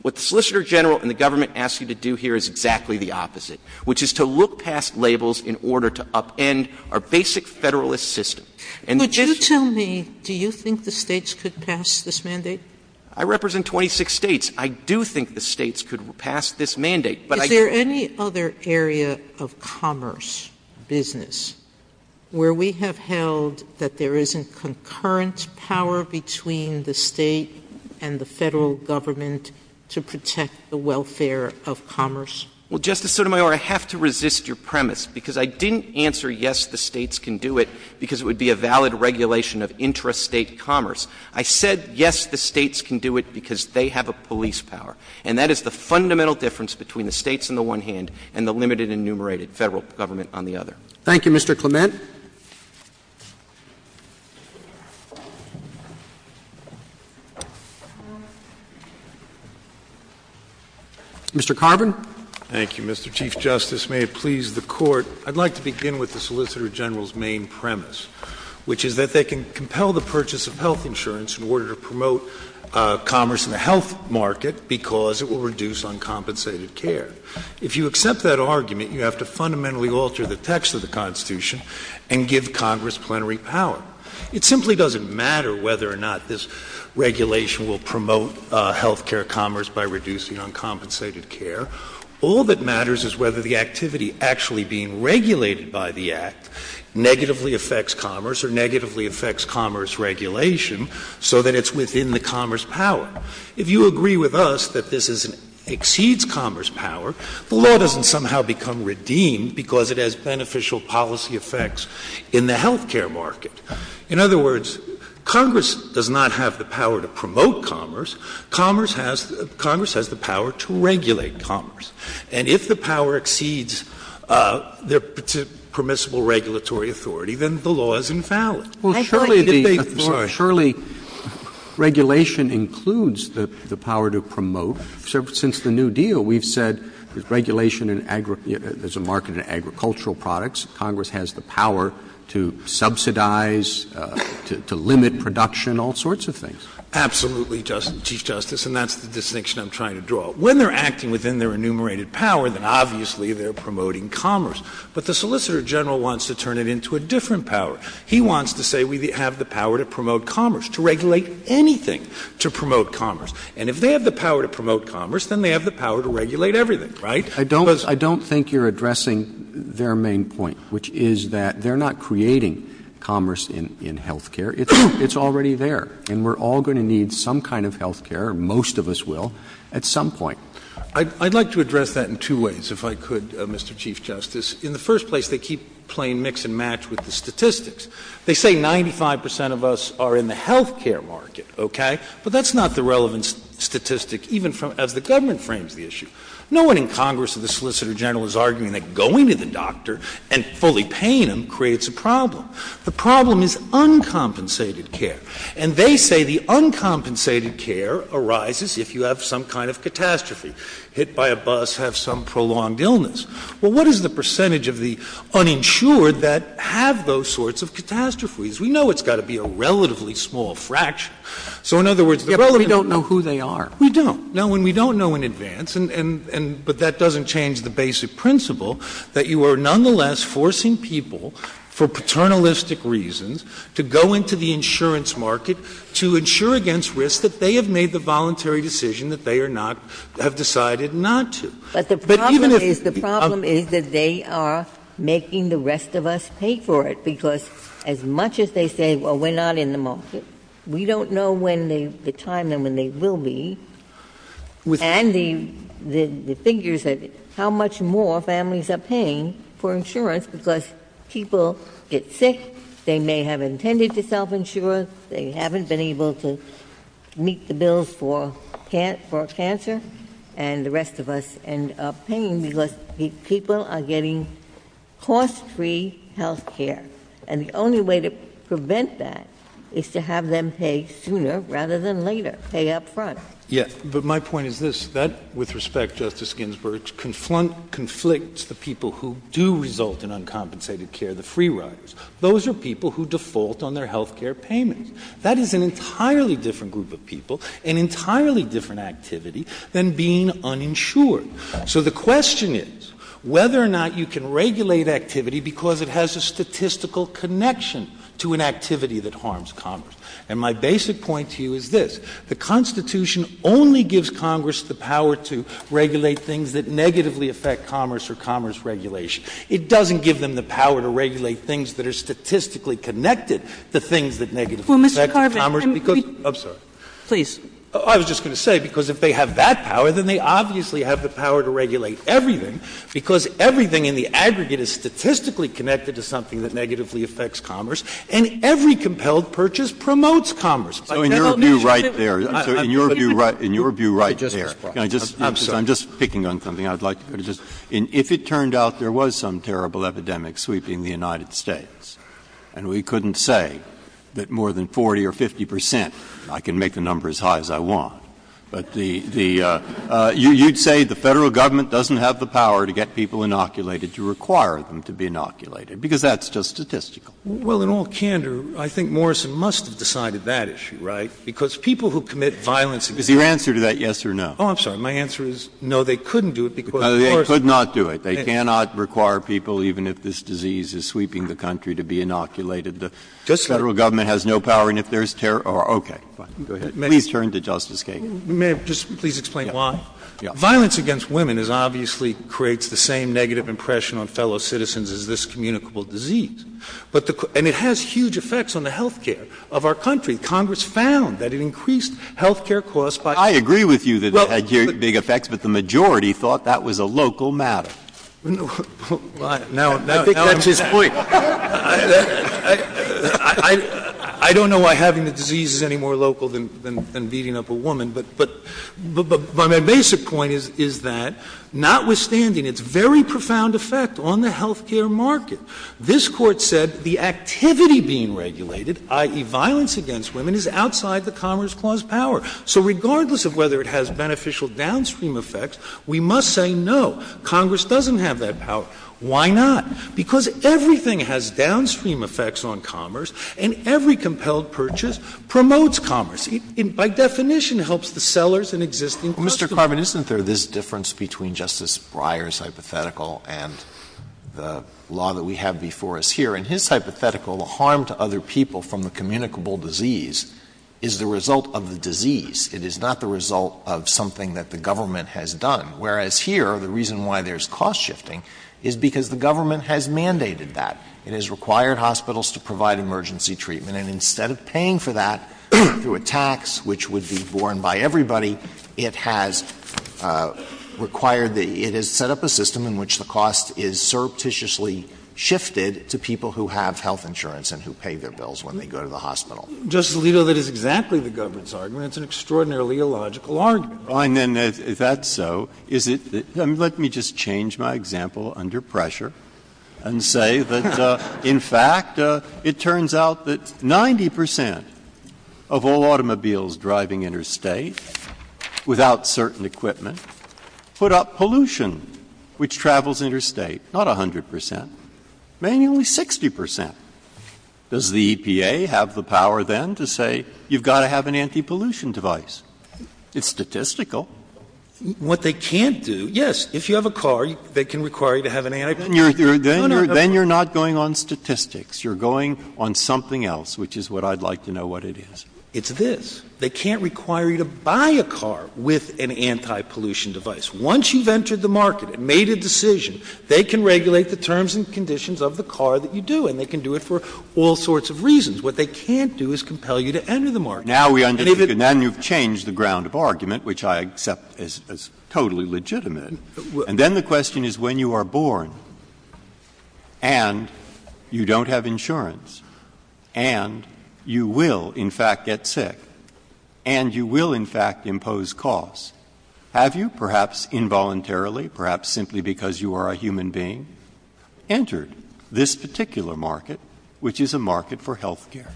What the Solicitor General and the government ask you to do here is exactly the opposite, which is to look past labels in order to upend our basic federalist system. And — Would you tell me, do you think the states could pass this mandate? I represent 26 states. I do think the states could pass this mandate, but I — Is there any other area of commerce, business, where we have held that there isn't a concurrence power between the state and the federal government to protect the welfare of commerce? Well, Justice Sotomayor, I have to resist your premise, because I didn't answer yes, the states can do it because it would be a valid regulation of intrastate commerce. I said yes, the states can do it because they have a police power. And that is the fundamental difference between the states on the one hand and the limited and enumerated federal government on the other. Thank you. Mr. Clement? Mr. Carvin? Thank you, Mr. Chief Justice. May it please the Court, I'd like to begin with the Solicitor General's main premise, which is that they can compel the purchase of health insurance in order to promote commerce in the health market because it will reduce uncompensated care. If you accept that argument, you have to fundamentally alter the text of the Constitution and give Congress plenary power. It simply doesn't matter whether or not this regulation will promote health care commerce by reducing uncompensated care. All that matters is whether the activity actually being regulated by the Act negatively affects commerce or negatively affects commerce regulation so that it's within the commerce power. If you agree with us that this exceeds commerce power, the law doesn't somehow become redeemed because it has beneficial policy effects in the health care market. In other words, Congress does not have the power to promote commerce. Congress has the power to regulate commerce. And if the power exceeds the permissible regulatory authority, then the law is invalid. Surely regulation includes the power to promote. So since the New Deal, we've said regulation is a market in agricultural products. Congress has the power to subsidize, to limit production, all sorts of things. Absolutely, Chief Justice, and that's the distinction I'm trying to draw. When they're acting within their enumerated power, then obviously they're promoting commerce. But the Solicitor General wants to turn it into a different power. He wants to say we have the power to promote commerce, to regulate anything to promote commerce. And if they have the power to promote commerce, then they have the power to regulate everything, right? I don't think you're addressing their main point, which is that they're not creating commerce in health care. It's already there. And we're all going to need some kind of health care, most of us will, at some point. I'd like to address that in two ways, if I could, Mr. Chief Justice. In the first place, they keep playing mix and match with the statistics. They say 95 percent of us are in the health care market, okay? But that's not the relevant statistic even of the government frames of the issue. No one in Congress or the Solicitor General is arguing that going to the doctor and fully paying him creates a problem. The problem is uncompensated care. And they say the uncompensated care arises if you have some kind of catastrophe, hit by a bus, have some prolonged illness. Well, what is the percentage of the uninsured that have those sorts of catastrophes? We know it's got to be a relatively small fraction. So, in other words, we don't know who they are. We don't. No, and we don't know in advance, but that doesn't change the basic principle, that you are nonetheless forcing people for paternalistic reasons to go into the insurance market to insure against risk that they have made the voluntary decision that they have decided not to. But the problem is that they are making the rest of us pay for it, because as much as they say, well, we're not in the market, we don't know the time and when they will be. And the figure is how much more families are paying for insurance because people get sick, they may have intended to self-insure, they haven't been able to meet the bills for cancer, and the rest of us end up paying because people are getting cost-free health care. And the only way to prevent that is to have them pay sooner rather than later, pay up front. Yes, but my point is this, that, with respect, Justice Ginsburg, conflicts the people who do result in uncompensated care, the free riders. Those are people who default on their health care payments. That is an entirely different group of people, an entirely different activity than being uninsured. So the question is whether or not you can regulate activity because it has a statistical connection to an activity that harms commerce. And my basic point to you is this, the Constitution only gives Congress the power to regulate things that negatively affect commerce or commerce regulation. It doesn't give them the power to regulate things that are statistically connected to things that negatively affect commerce. I was just going to say, because if they have that power, then they obviously have the power to regulate everything, because everything in the aggregate is statistically connected to something that negatively affects commerce, and every compelled purchase promotes commerce. In your view right there, I'm just picking on something. If it turned out there was some terrible epidemic sweeping the United States, and we couldn't say that more than 40 or 50 percent, I can make the number as high as I want, but you'd say the federal government doesn't have the power to get people inoculated, to require them to be inoculated, because that's just statistical. Well, in all candor, I think Morrison must have decided that issue, right? Because people who commit violence... Is your answer to that yes or no? Oh, I'm sorry. My answer is no, they couldn't do it because... The federal government has no power, and if there's terror... Okay, fine. Please turn to Justice Kagan. May I just please explain why? Violence against women obviously creates the same negative impression on fellow citizens as this communicable disease, and it has huge effects on the health care of our country. Congress found that it increased health care costs by... I agree with you that it had huge, big effects, but the majority thought that was a local matter. I think that's his point. I don't know why having the disease is any more local than beating up a woman, but my basic point is that, notwithstanding its very profound effect on the health care market, this court said the activity being regulated, i.e. violence against women, is outside the commerce clause power. So regardless of whether it has beneficial downstream effects, we must say no. Congress doesn't have that power. Why not? Because everything has downstream effects on commerce, and every compelled purchase promotes commerce. By definition, it helps the sellers and existing customers. Mr. Carvin, isn't there this difference between Justice Breyer's hypothetical and the law that we have before us here? In his hypothetical, the harm to other people from the communicable disease is the result of the disease. It is not the result of something that the government has done. Whereas here, the reason why there's cost shifting is because the government has mandated that. It has required hospitals to provide emergency treatment, and instead of paying for that through a tax which would be borne by everybody, it has required the — it has set up a system in which the cost is surreptitiously shifted to people who have health insurance and who pay their bills when they go to the hospital. Justice Alito, that is exactly the government's argument. It's an extraordinarily illogical argument. Well, I mean, if that's so, is it — let me just change my example under pressure and say that, in fact, it turns out that 90 percent of all automobiles driving interstate without certain equipment put up pollution which travels interstate. Not 100 percent. Maybe only 60 percent. Does the EPA have the power then to say you've got to have an anti-pollution device? It's statistical. What they can't do — yes, if you have a car, they can require you to have an anti-pollution device. Then you're not going on statistics. You're going on something else, which is what I'd like to know what it is. It's this. They can't require you to buy a car with an anti-pollution device. Once you've entered the market and made a decision, they can regulate the terms and conditions of the car that you do, and they can do it for all sorts of reasons. What they can't do is compel you to enter the market. Now you've changed the ground of argument, which I accept is totally legitimate. And then the question is, when you are born, and you don't have insurance, and you will, in fact, get sick, and you will, in fact, impose costs, have you, perhaps involuntarily, perhaps simply because you are a human being, entered this particular market, which is a market for health care?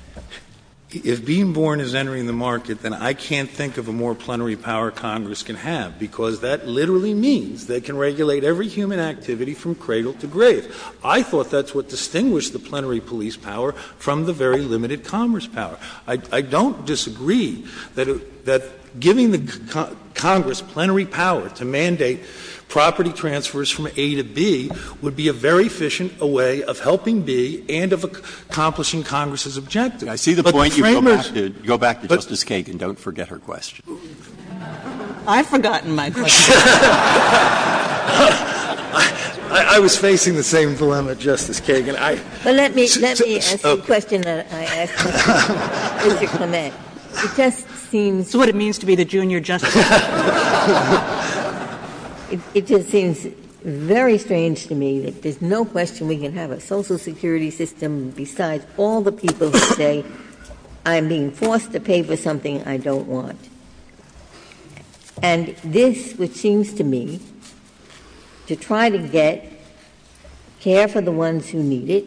If being born is entering the market, then I can't think of a more plenary power Congress can have, because that literally means they can regulate every human activity from cradle to grave. I thought that's what distinguished the plenary police power from the very limited commerce power. I don't disagree that giving Congress plenary power to mandate property transfers from A to B would be a very efficient way of helping B and of accomplishing Congress's objective. I see the point. Go back to Justice Kagan. Don't forget her question. I've forgotten my question. I was facing the same dilemma, Justice Kagan. Well, let me ask the question that I asked Mr. Clement. It just seems— It's what it means to be the junior justice. It just seems very strange to me that there's no question we can have a social security system besides all the people who say, I'm being forced to pay for something I don't want. And this, which seems to me, to try to get care for the ones who need it,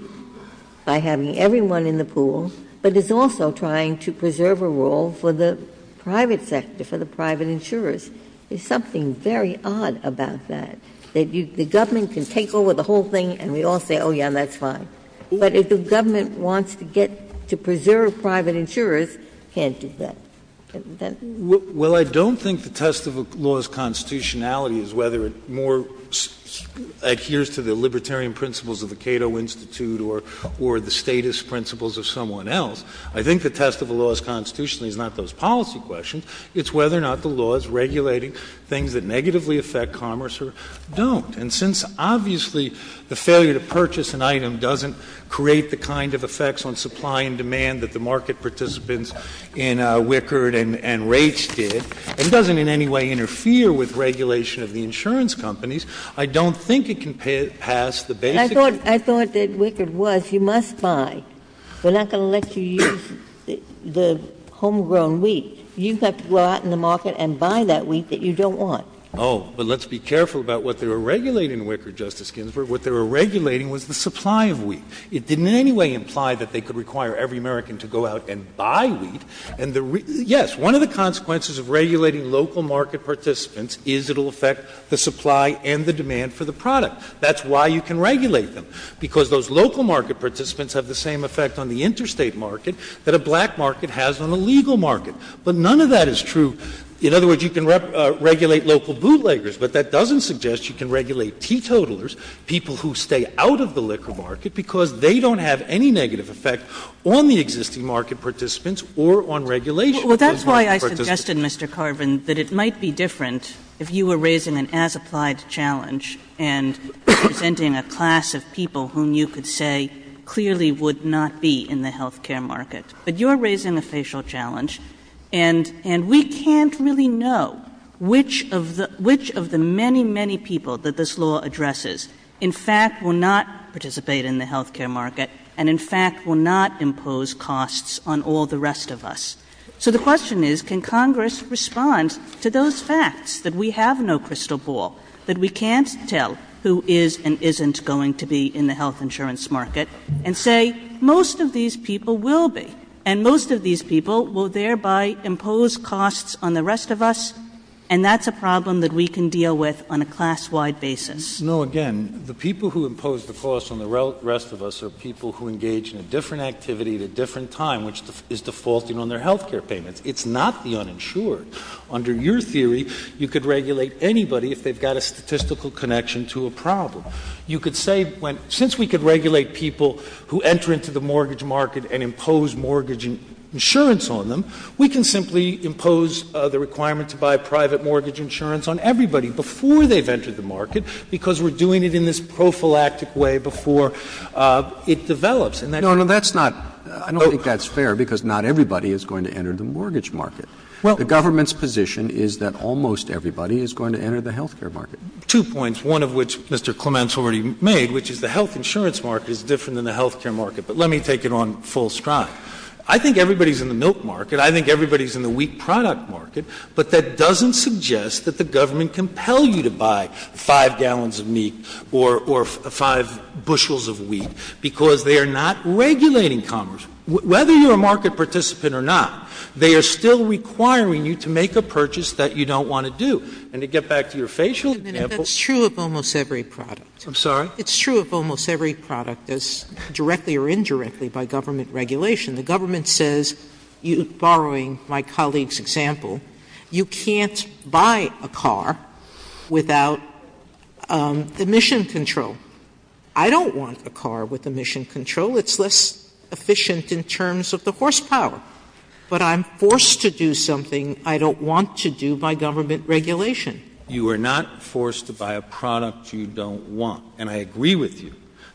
by having everyone in the pool, but it's also trying to preserve a role for the private sector, for the private insurers. There's something very odd about that. The government can take over the whole thing and we all say, oh, yeah, that's fine. But if the government wants to get to preserve private insurers, it can't do that. Well, I don't think the test of a law's constitutionality is whether it more adheres to the libertarian principles of the Cato Institute or the statist principles of someone else. I think the test of a law's constitutionality is not those policy questions. It's whether or not the law is regulating things that negatively affect commerce or don't. And since obviously the failure to purchase an item doesn't create the kind of effects on supply and demand that the market participants in Wickard and Raich did, and doesn't in any way interfere with regulation of the insurance companies, I don't think it can pass the basic... I thought that Wickard was, you must buy. We're not going to let you use the homegrown wheat. You have to go out in the market and buy that wheat that you don't want. Oh, but let's be careful about what they were regulating in Wickard, Justice Ginsburg. What they were regulating was the supply of wheat. It didn't in any way imply that they could require every American to go out and buy wheat. Yes, one of the consequences of regulating local market participants is it will affect the supply and the demand for the product. That's why you can regulate them, because those local market participants have the same effect on the interstate market that a black market has on the legal market. But none of that is true... In other words, you can regulate local bootleggers, but that doesn't suggest you can regulate teetotalers, people who stay out of the liquor market because they don't have any negative effect on the existing market participants or on regulation... Well, that's why I suggested, Mr. Carvin, that it might be different if you were raising an as-applied challenge and presenting a class of people whom you could say clearly would not be in the health care market. But you're raising a facial challenge, and we can't really know which of the many, many people that this law addresses in fact will not participate in the health care market and in fact will not impose costs on all the rest of us. So the question is, can Congress respond to those facts, that we have no crystal ball, that we can't tell who is and isn't going to be in the health insurance market, and say, most of these people will be, and most of these people will thereby impose costs on the rest of us, and that's a problem that we can deal with on a class-wide basis. No, again, the people who impose the costs on the rest of us are people who engage in a different activity at a different time, which is defaulting on their health care payment. It's not the uninsured. Under your theory, you could regulate anybody if they've got a statistical connection to a problem. You could say, since we could regulate people who enter into the mortgage market and impose mortgage insurance on them, we can simply impose the requirement to buy private mortgage insurance on everybody before they've entered the market, because we're doing it in this prophylactic way before it develops. No, no, I don't think that's fair, because not everybody is going to enter the mortgage market. The government's position is that almost everybody is going to enter the health care market. Two points, one of which Mr. Clements already made, which is the health insurance market is different than the health care market, but let me take it on full stride. I think everybody's in the milk market. I think everybody's in the wheat product market, but that doesn't suggest that the government compel you to buy five gallons of meat or five bushels of wheat, because they are not regulating commerce. Whether you're a market participant or not, they are still requiring you to make a purchase that you don't want to do. And to get back to your facial example... That's true of almost every product. I'm sorry? It's true of almost every product that's directly or indirectly by government regulation. The government says, borrowing my colleague's example, you can't buy a car without emission control. I don't want a car with emission control. It's less efficient in terms of the horsepower. But I'm forced to do something I don't want to do by government regulation. You are not forced to buy a product you don't want. And I agree with you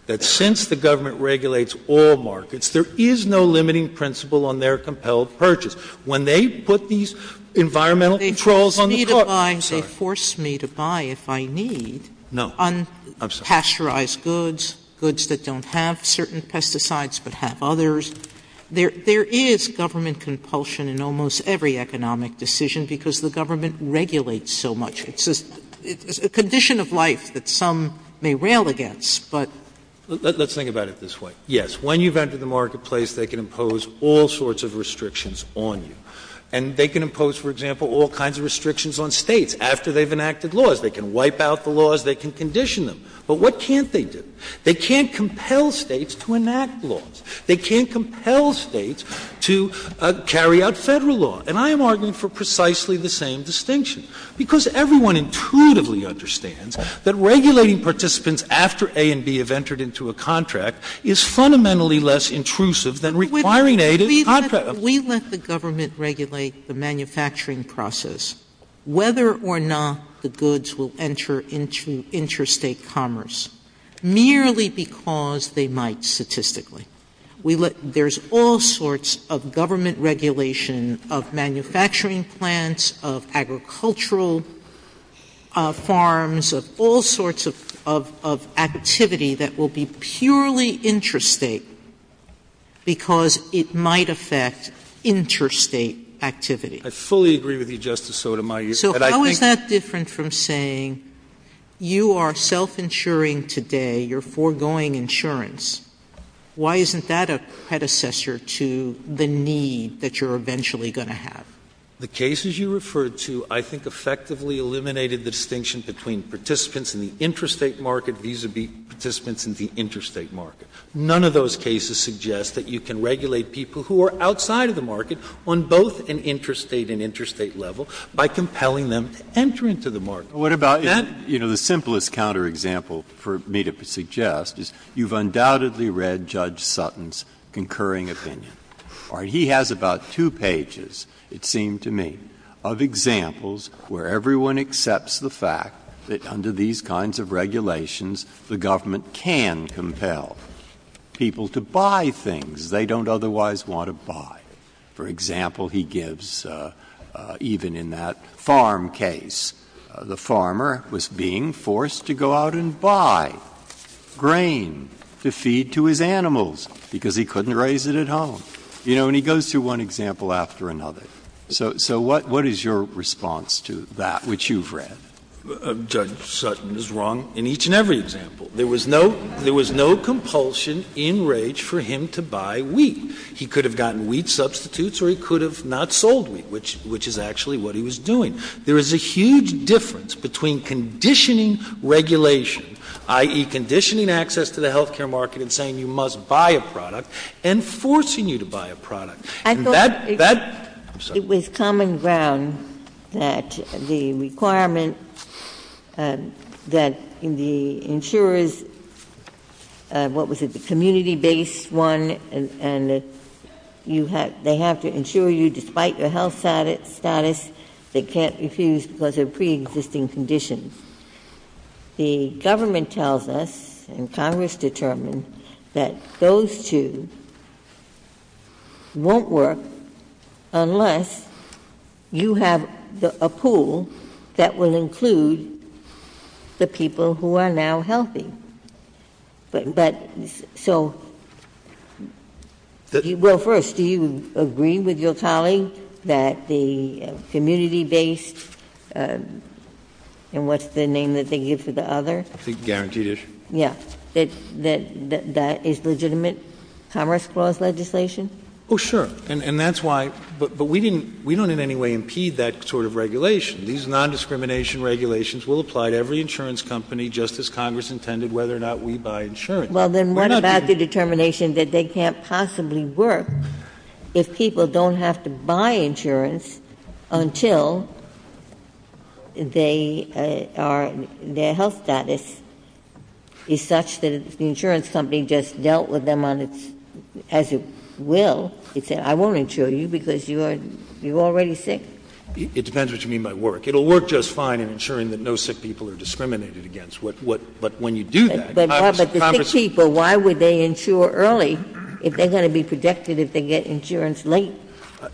that since the government regulates all markets, there is no limiting principle on their compelled purchase. When they put these environmental controls on the court... They force me to buy if I need unpasteurized goods, goods that don't have certain pesticides but have others. There is government compulsion in almost every economic decision because the government regulates so much. It's a condition of life that some may rail against, but... Let's think about it this way. Yes, when you've entered the marketplace, they can impose all sorts of restrictions on you. And they can impose, for example, all kinds of restrictions on states after they've enacted laws. They can wipe out the laws. They can condition them. But what can't they do? They can't compel states to enact laws. They can't compel states to carry out federal law. And I am arguing for precisely the same distinction because everyone intuitively understands that regulating participants after A and B have entered into a contract is fundamentally less intrusive than requiring A to... We let the government regulate the manufacturing process, whether or not the goods will enter into interstate commerce, merely because they might statistically. There's all sorts of government regulation of manufacturing plants, of agricultural farms, of all sorts of activity that will be purely interstate because it might affect interstate activity. I fully agree with you, Justice Sotomayor. So how is that different from saying you are self-insuring today, you're foregoing insurance? Why isn't that a predecessor to the need that you're eventually going to have? The cases you referred to I think effectively eliminated the distinction between participants in the interstate market vis-à-vis participants in the interstate market. None of those cases suggest that you can regulate people who are outside of the market on both an interstate and interstate level by compelling them to enter into the market. What about... You know, the simplest counterexample for me to suggest is you've undoubtedly read Judge Sutton's concurring opinion. He has about two pages, it seemed to me, of examples where everyone accepts the fact that under these kinds of regulations the government can compel people to buy things they don't otherwise want to buy. For example, he gives, even in that farm case, the farmer was being forced to go out and buy grain to feed to his animals because he couldn't raise it at home. You know, and he goes through one example after another. So what is your response to that, which you've read? Judge Sutton is wrong in each and every example. There was no compulsion in rage for him to buy wheat. He could have gotten wheat substitutes or he could have not sold wheat, which is actually what he was doing. There is a huge difference between conditioning regulation, i.e. conditioning access to the health care market and saying you must buy a product and forcing you to buy a product. I thought it was common ground that the requirement that the insurers, what was it, the community-based one, and they have to insure you despite your health status, they can't refuse because of preexisting conditions. The government tells us, and Congress determines, that those two won't work unless you have a pool that will include the people who are now healthy. But so, well, first, do you agree with your colleague that the community-based, and what's the name that they use for the other? Guaranteed issue. Yes. That that is legitimate commerce clause legislation? Oh, sure. And that's why, but we don't in any way impede that sort of regulation. These nondiscrimination regulations will apply to every insurance company, just as Congress intended, whether or not we buy insurance. Well, then what about the determination that they can't possibly work if people don't have to buy insurance until they are, their health status is such that the insurance company just dealt with them on its, as it will. You say, I won't insure you because you're already sick. It depends what you mean by work. It'll work just fine in ensuring that no sick people are discriminated against. But when you do that. But the sick people, why would they insure early if they're going to be protected if they get insurance late?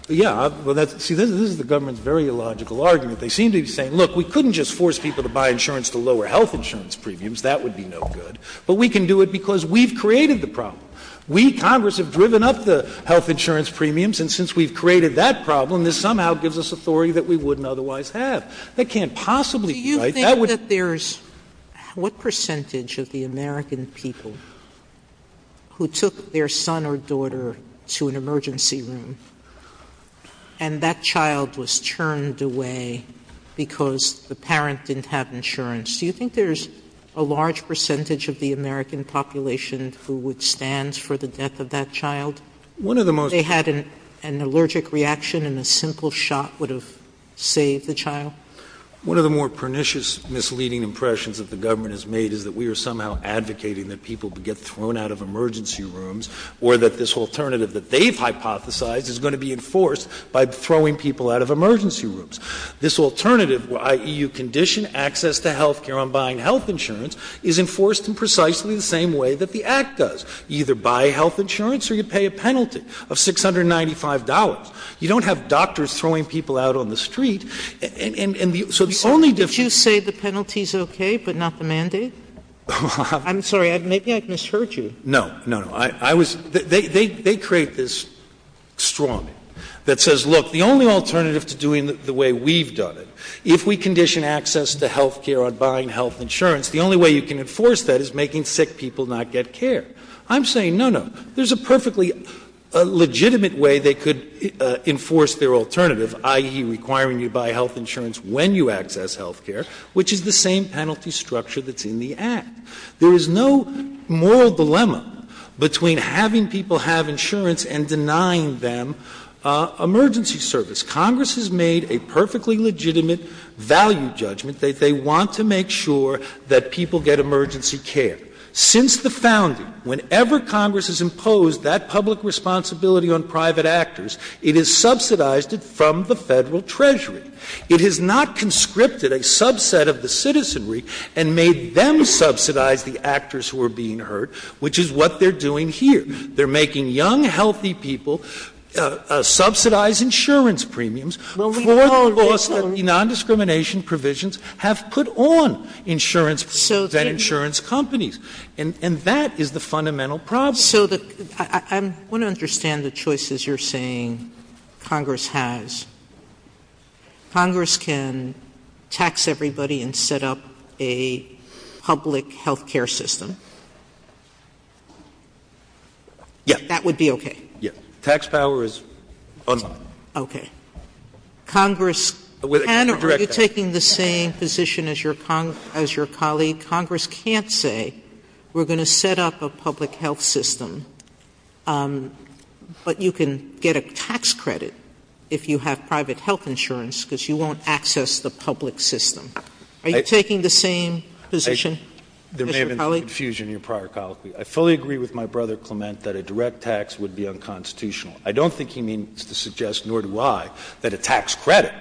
Yeah, well, see, this is the government's very illogical argument. They seem to be saying, look, we couldn't just force people to buy insurance to lower health insurance premiums. That would be no good. But we can do it because we've created the problem. We, Congress, have driven up the health insurance premiums, and since we've created that problem, this somehow gives us authority that we wouldn't otherwise have. They can't possibly do it. Do you think that there's, what percentage of the American people who took their son or daughter to an emergency room and that child was turned away because the parent didn't have insurance, do you think there's a large percentage of the American population who would stand for the death of that child? They had an allergic reaction and a simple shot would have saved the child? One of the more pernicious misleading impressions that the government has made is that we are somehow advocating that people get thrown out of emergency rooms or that this alternative that they've hypothesized is going to be enforced by throwing people out of emergency rooms. This alternative, i.e., you condition access to health care on buying health insurance, is enforced in precisely the same way that the Act does. You either buy health insurance or you pay a penalty of $695. You don't have doctors throwing people out on the street Would you say the penalty is okay but not the mandate? I'm sorry, maybe I've misheard you. No, no, no. They create this straw man that says, look, the only alternative to doing it the way we've done it, if we condition access to health care on buying health insurance, the only way you can enforce that is making sick people not get care. I'm saying, no, no, there's a perfectly legitimate way they could enforce their alternative, i.e., requiring you buy health insurance when you access health care, which is the same penalty structure that's in the Act. There is no moral dilemma between having people have insurance and denying them emergency service. Congress has made a perfectly legitimate value judgment that they want to make sure that people get emergency care. Since the founding, whenever Congress has imposed that public responsibility on private actors, it has subsidized it from the federal treasury. It has not conscripted a subset of the citizenry and made them subsidize the actors who are being hurt, which is what they're doing here. They're making young, healthy people subsidize insurance premiums. Non-discrimination provisions have put on insurance companies. And that is the fundamental problem. So I want to understand the choices you're saying Congress has. Congress can tax everybody and set up a public health care system. Yes. That would be okay. Yes. Tax power is unlawful. Okay. Congress can or are you taking the same position as your colleague? Mr. Kelly, Congress can't say we're going to set up a public health system, but you can get a tax credit if you have private health insurance because you won't access the public system. Are you taking the same position, Mr. Kelly? There may have been confusion in your prior colloquy. I fully agree with my brother Clement that a direct tax would be unconstitutional. I don't think he means to suggest, nor do I, that a tax credit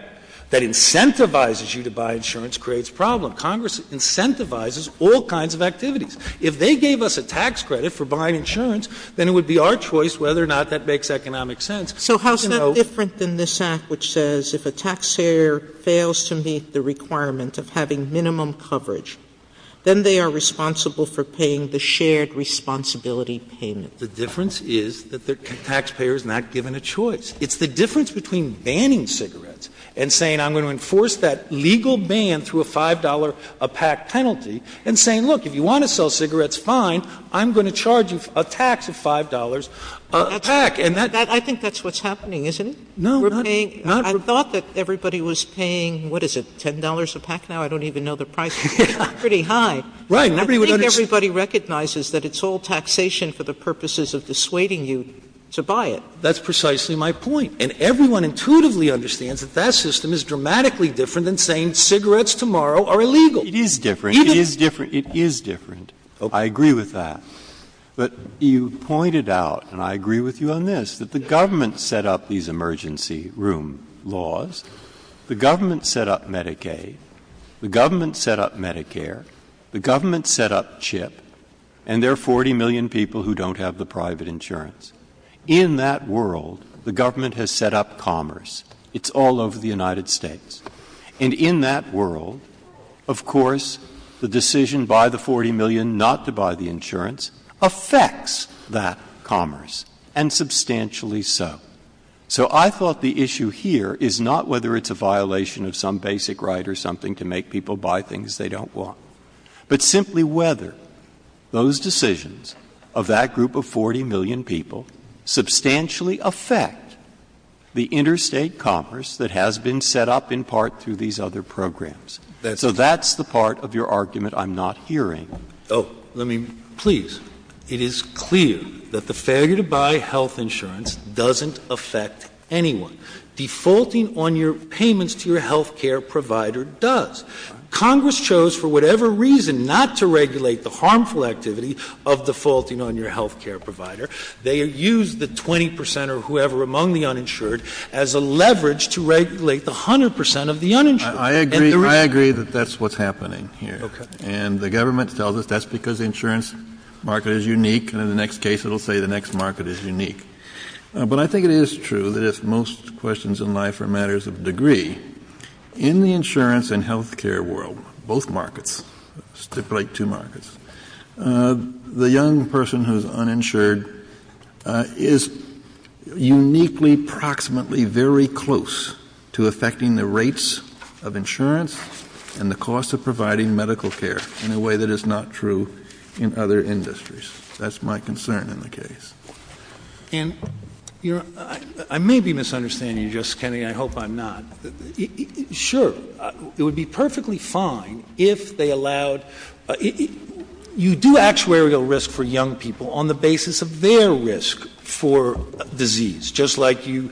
that incentivizes you to buy insurance creates problems. No, Congress incentivizes all kinds of activities. If they gave us a tax credit for buying insurance, then it would be our choice whether or not that makes economic sense. So how is that different than this act which says if a tax payer fails to meet the requirement of having minimum coverage, then they are responsible for paying the shared responsibility payment? The difference is that the taxpayer is not given a choice. It's the difference between banning cigarettes and saying I'm going to enforce that legal ban through a $5 a pack penalty and saying, look, if you want to sell cigarettes, fine, I'm going to charge you a tax of $5 a pack. I think that's what's happening, isn't it? No. I thought that everybody was paying, what is it, $10 a pack now? I don't even know the price. It's pretty high. Right. I think everybody recognizes that it's all taxation for the purposes of dissuading you to buy it. That's precisely my point. And everyone intuitively understands that that system is dramatically different than saying cigarettes tomorrow are illegal. It is different. It is different. It is different. I agree with that. But you pointed out, and I agree with you on this, that the government set up these emergency room laws. The government set up Medicaid. The government set up Medicare. The government set up CHIP. And there are 40 million people who don't have the private insurance. In that world, the government has set up commerce. It's all over the United States. And in that world, of course, the decision by the 40 million not to buy the insurance affects that commerce, and substantially so. So I thought the issue here is not whether it's a violation of some basic right or something to make people buy things they don't want, but simply whether those decisions of that group of 40 million people substantially affect the interstate commerce that has been set up in part through these other programs. So that's the part of your argument I'm not hearing. Please, it is clear that the failure to buy health insurance doesn't affect anyone. Defaulting on your payments to your health care provider does. Congress chose for whatever reason not to regulate the harmful activity of defaulting on your health care provider. They used the 20% or whoever among the uninsured as a leverage to regulate the 100% of the uninsured. I agree that that's what's happening here. And the government felt that that's because the insurance market is unique, and in the next case it will say the next market is unique. But I think it is true that if most questions in life are matters of degree, in the insurance and health care world, both markets, it's like two markets, the young person who's uninsured is uniquely, proximately very close to affecting the rates of insurance and the cost of providing medical care in a way that is not true in other industries. That's my concern in the case. And I may be misunderstanding you, Justice Kennedy. I hope I'm not. Sure, it would be perfectly fine if they allowed you do actuarial risk for young people on the basis of their risk for disease, just like you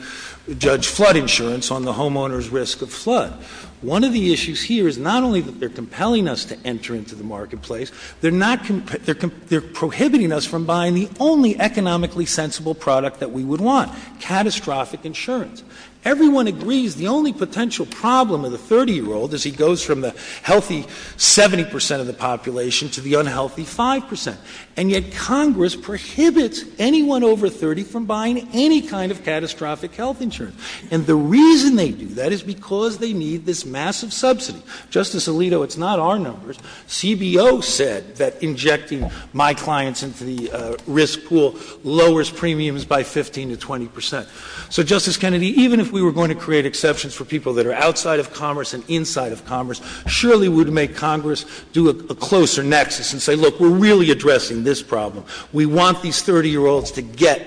judge flood insurance on the homeowner's risk of flood. One of the issues here is not only that they're compelling us to enter into the marketplace, they're prohibiting us from buying the only economically sensible product that we would want, catastrophic insurance. Everyone agrees the only potential problem of the 30-year-old is he goes from the healthy 70% of the population to the unhealthy 5%. And yet Congress prohibits anyone over 30 from buying any kind of catastrophic health insurance. And the reason they do that is because they need this massive subsidy. Justice Alito, it's not our numbers. CBO said that injecting my clients into the risk pool lowers premiums by 15 to 20%. So, Justice Kennedy, even if we were going to create exceptions for people that are outside of commerce and inside of commerce, surely we would make Congress do a closer nexus and say, look, we're really addressing this problem. We want these 30-year-olds to get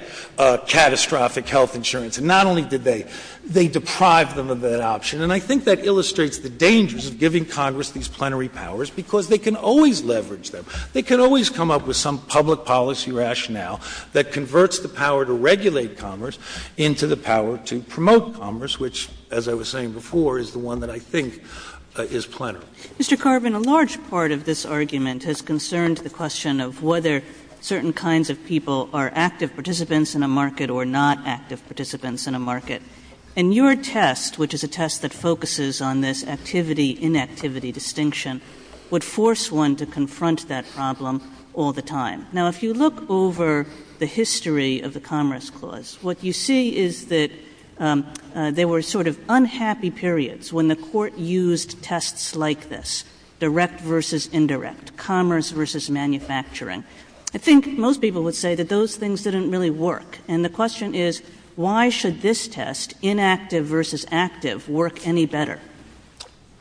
catastrophic health insurance. And not only did they, they deprived them of that option. And I think that illustrates the dangers of giving Congress these plenary powers because they can always leverage them. They can always come up with some public policy rationale that converts the power to regulate commerce into the power to promote commerce, which, as I was saying before, is the one that I think is plenary. Mr. Carbin, a large part of this argument has concerned the question of whether certain kinds of people are active participants in a market or not active participants in a market. And your test, which is a test that focuses on this activity-inactivity distinction, would force one to confront that problem all the time. Now, if you look over the history of the Commerce Clause, what you see is that there were sort of unhappy periods when the court used tests like this, direct versus indirect, commerce versus manufacturing. I think most people would say that those things didn't really work. And the question is, why should this test, inactive versus active, work any better?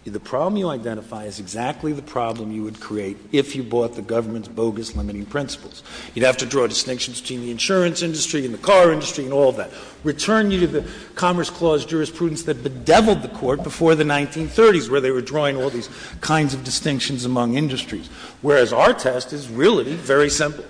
The problem you identify is exactly the problem you would create if you bought the government's bogus limiting principles. You'd have to draw distinctions between the insurance industry and the car industry and all that. Return you to the Commerce Clause jurisprudence that bedeviled the court before the 1930s, where they were drawing all these kinds of distinctions among industries, whereas our test is really very simple.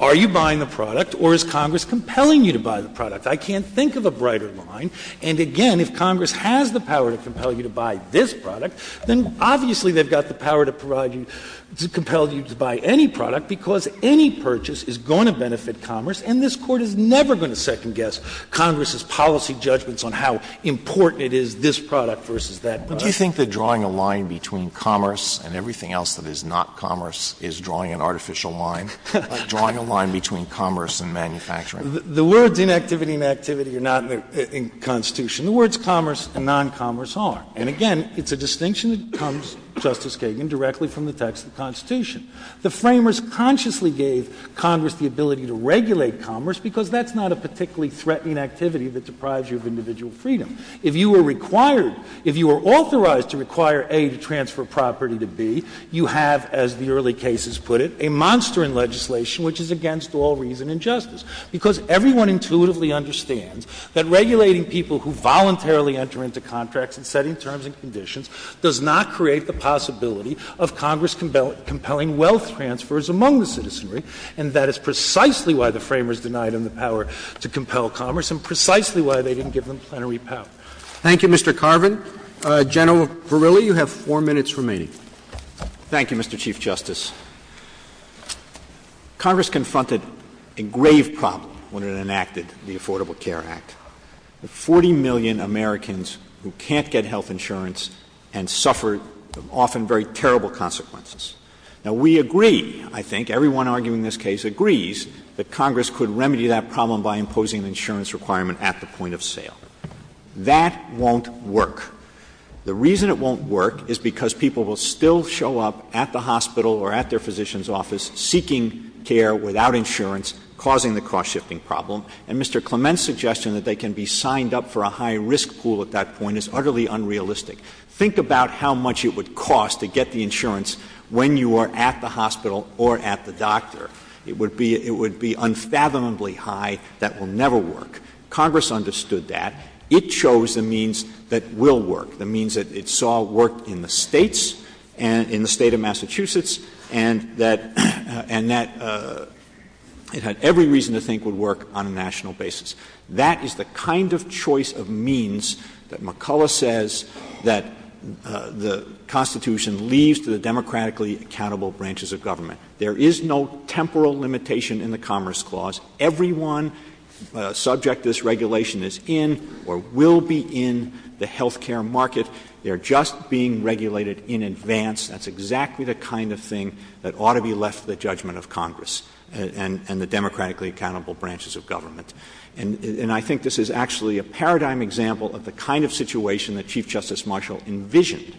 Are you buying the product, or is Congress compelling you to buy the product? I can't think of a brighter line. And, again, if Congress has the power to compel you to buy this product, then obviously they've got the power to provide you, to compel you to buy any product, because any purchase is going to benefit commerce, and this Court is never going to second-guess Congress's policy judgments on how important it is, this product versus that product. Do you think that drawing a line between commerce and everything else that is not commerce is drawing an artificial line? It's drawing a line between commerce and manufacturing. The words inactivity and activity are not in the Constitution. The words commerce and non-commerce are. And, again, it's a distinction that comes, Justice Kagan, directly from the text of the Constitution. The framers consciously gave Congress the ability to regulate commerce because that's not a particularly threatening activity that deprives you of individual freedom. If you were required, if you were authorized to require, A, to transfer property to B, you have, as the early cases put it, a monster in legislation which is against all reason and justice, because everyone intuitively understands that regulating people who voluntarily enter into contracts and setting terms and conditions does not create the possibility of Congress compelling wealth transfers among the citizenry, and that is precisely why the framers denied them the power to compel commerce and precisely why they didn't give them plenary power. Thank you, Mr. Carvin. General Verrilli, you have four minutes remaining. Thank you, Mr. Chief Justice. Congress confronted a grave problem when it enacted the Affordable Care Act. Forty million Americans who can't get health insurance and suffer often very terrible consequences. Now, we agree, I think, everyone arguing this case agrees that Congress could remedy that problem by imposing an insurance requirement at the point of sale. That won't work. The reason it won't work is because people will still show up at the hospital or at their physician's office seeking care without insurance, causing the cost-shifting problem, and Mr. Clement's suggestion that they can be signed up for a high-risk pool at that point is utterly unrealistic. Think about how much it would cost to get the insurance when you are at the hospital or at the doctor. It would be unfathomably high. That will never work. Congress understood that. It chose the means that will work, the means that it saw work in the states, in the state of Massachusetts, and that it had every reason to think would work on a national basis. That is the kind of choice of means that McCullough says that the Constitution leaves to the democratically accountable branches of government. There is no temporal limitation in the Commerce Clause. Everyone subject to this regulation is in or will be in the health care market. They are just being regulated in advance. That's exactly the kind of thing that ought to be left to the judgment of Congress and the democratically accountable branches of government. And I think this is actually a paradigm example of the kind of situation that Chief Justice Marshall envisioned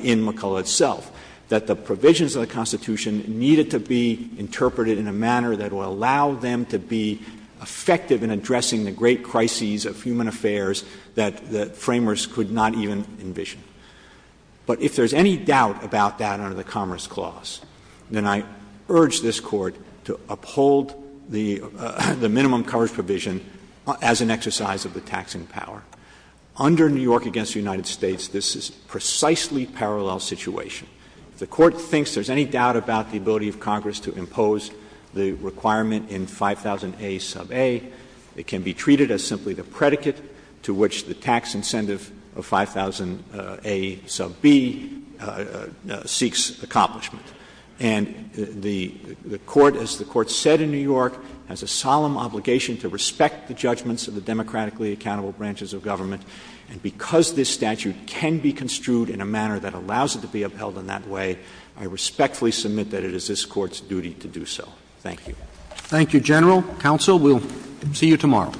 in McCullough itself, that the provisions of the Constitution needed to be interpreted in a manner that will allow them to be effective in addressing the great crises of human affairs that framers could not even envision. But if there's any doubt about that under the Commerce Clause, then I urge this Court to uphold the minimum coverage provision as an exercise of the taxing power. Under New York against the United States, this is a precisely parallel situation. The Court thinks there's any doubt about the ability of Congress to impose the requirement in 5000A sub A that can be treated as simply the predicate to which the tax incentive of 5000A sub B seeks accomplishment. And the Court, as the Court said in New York, has a solemn obligation to respect the judgments of the democratically accountable branches of government, and because this statute can be construed in a manner that allows it to be upheld in that way, I respectfully submit that it is this Court's duty to do so. Thank you. Thank you, General. Counsel, we'll see you tomorrow.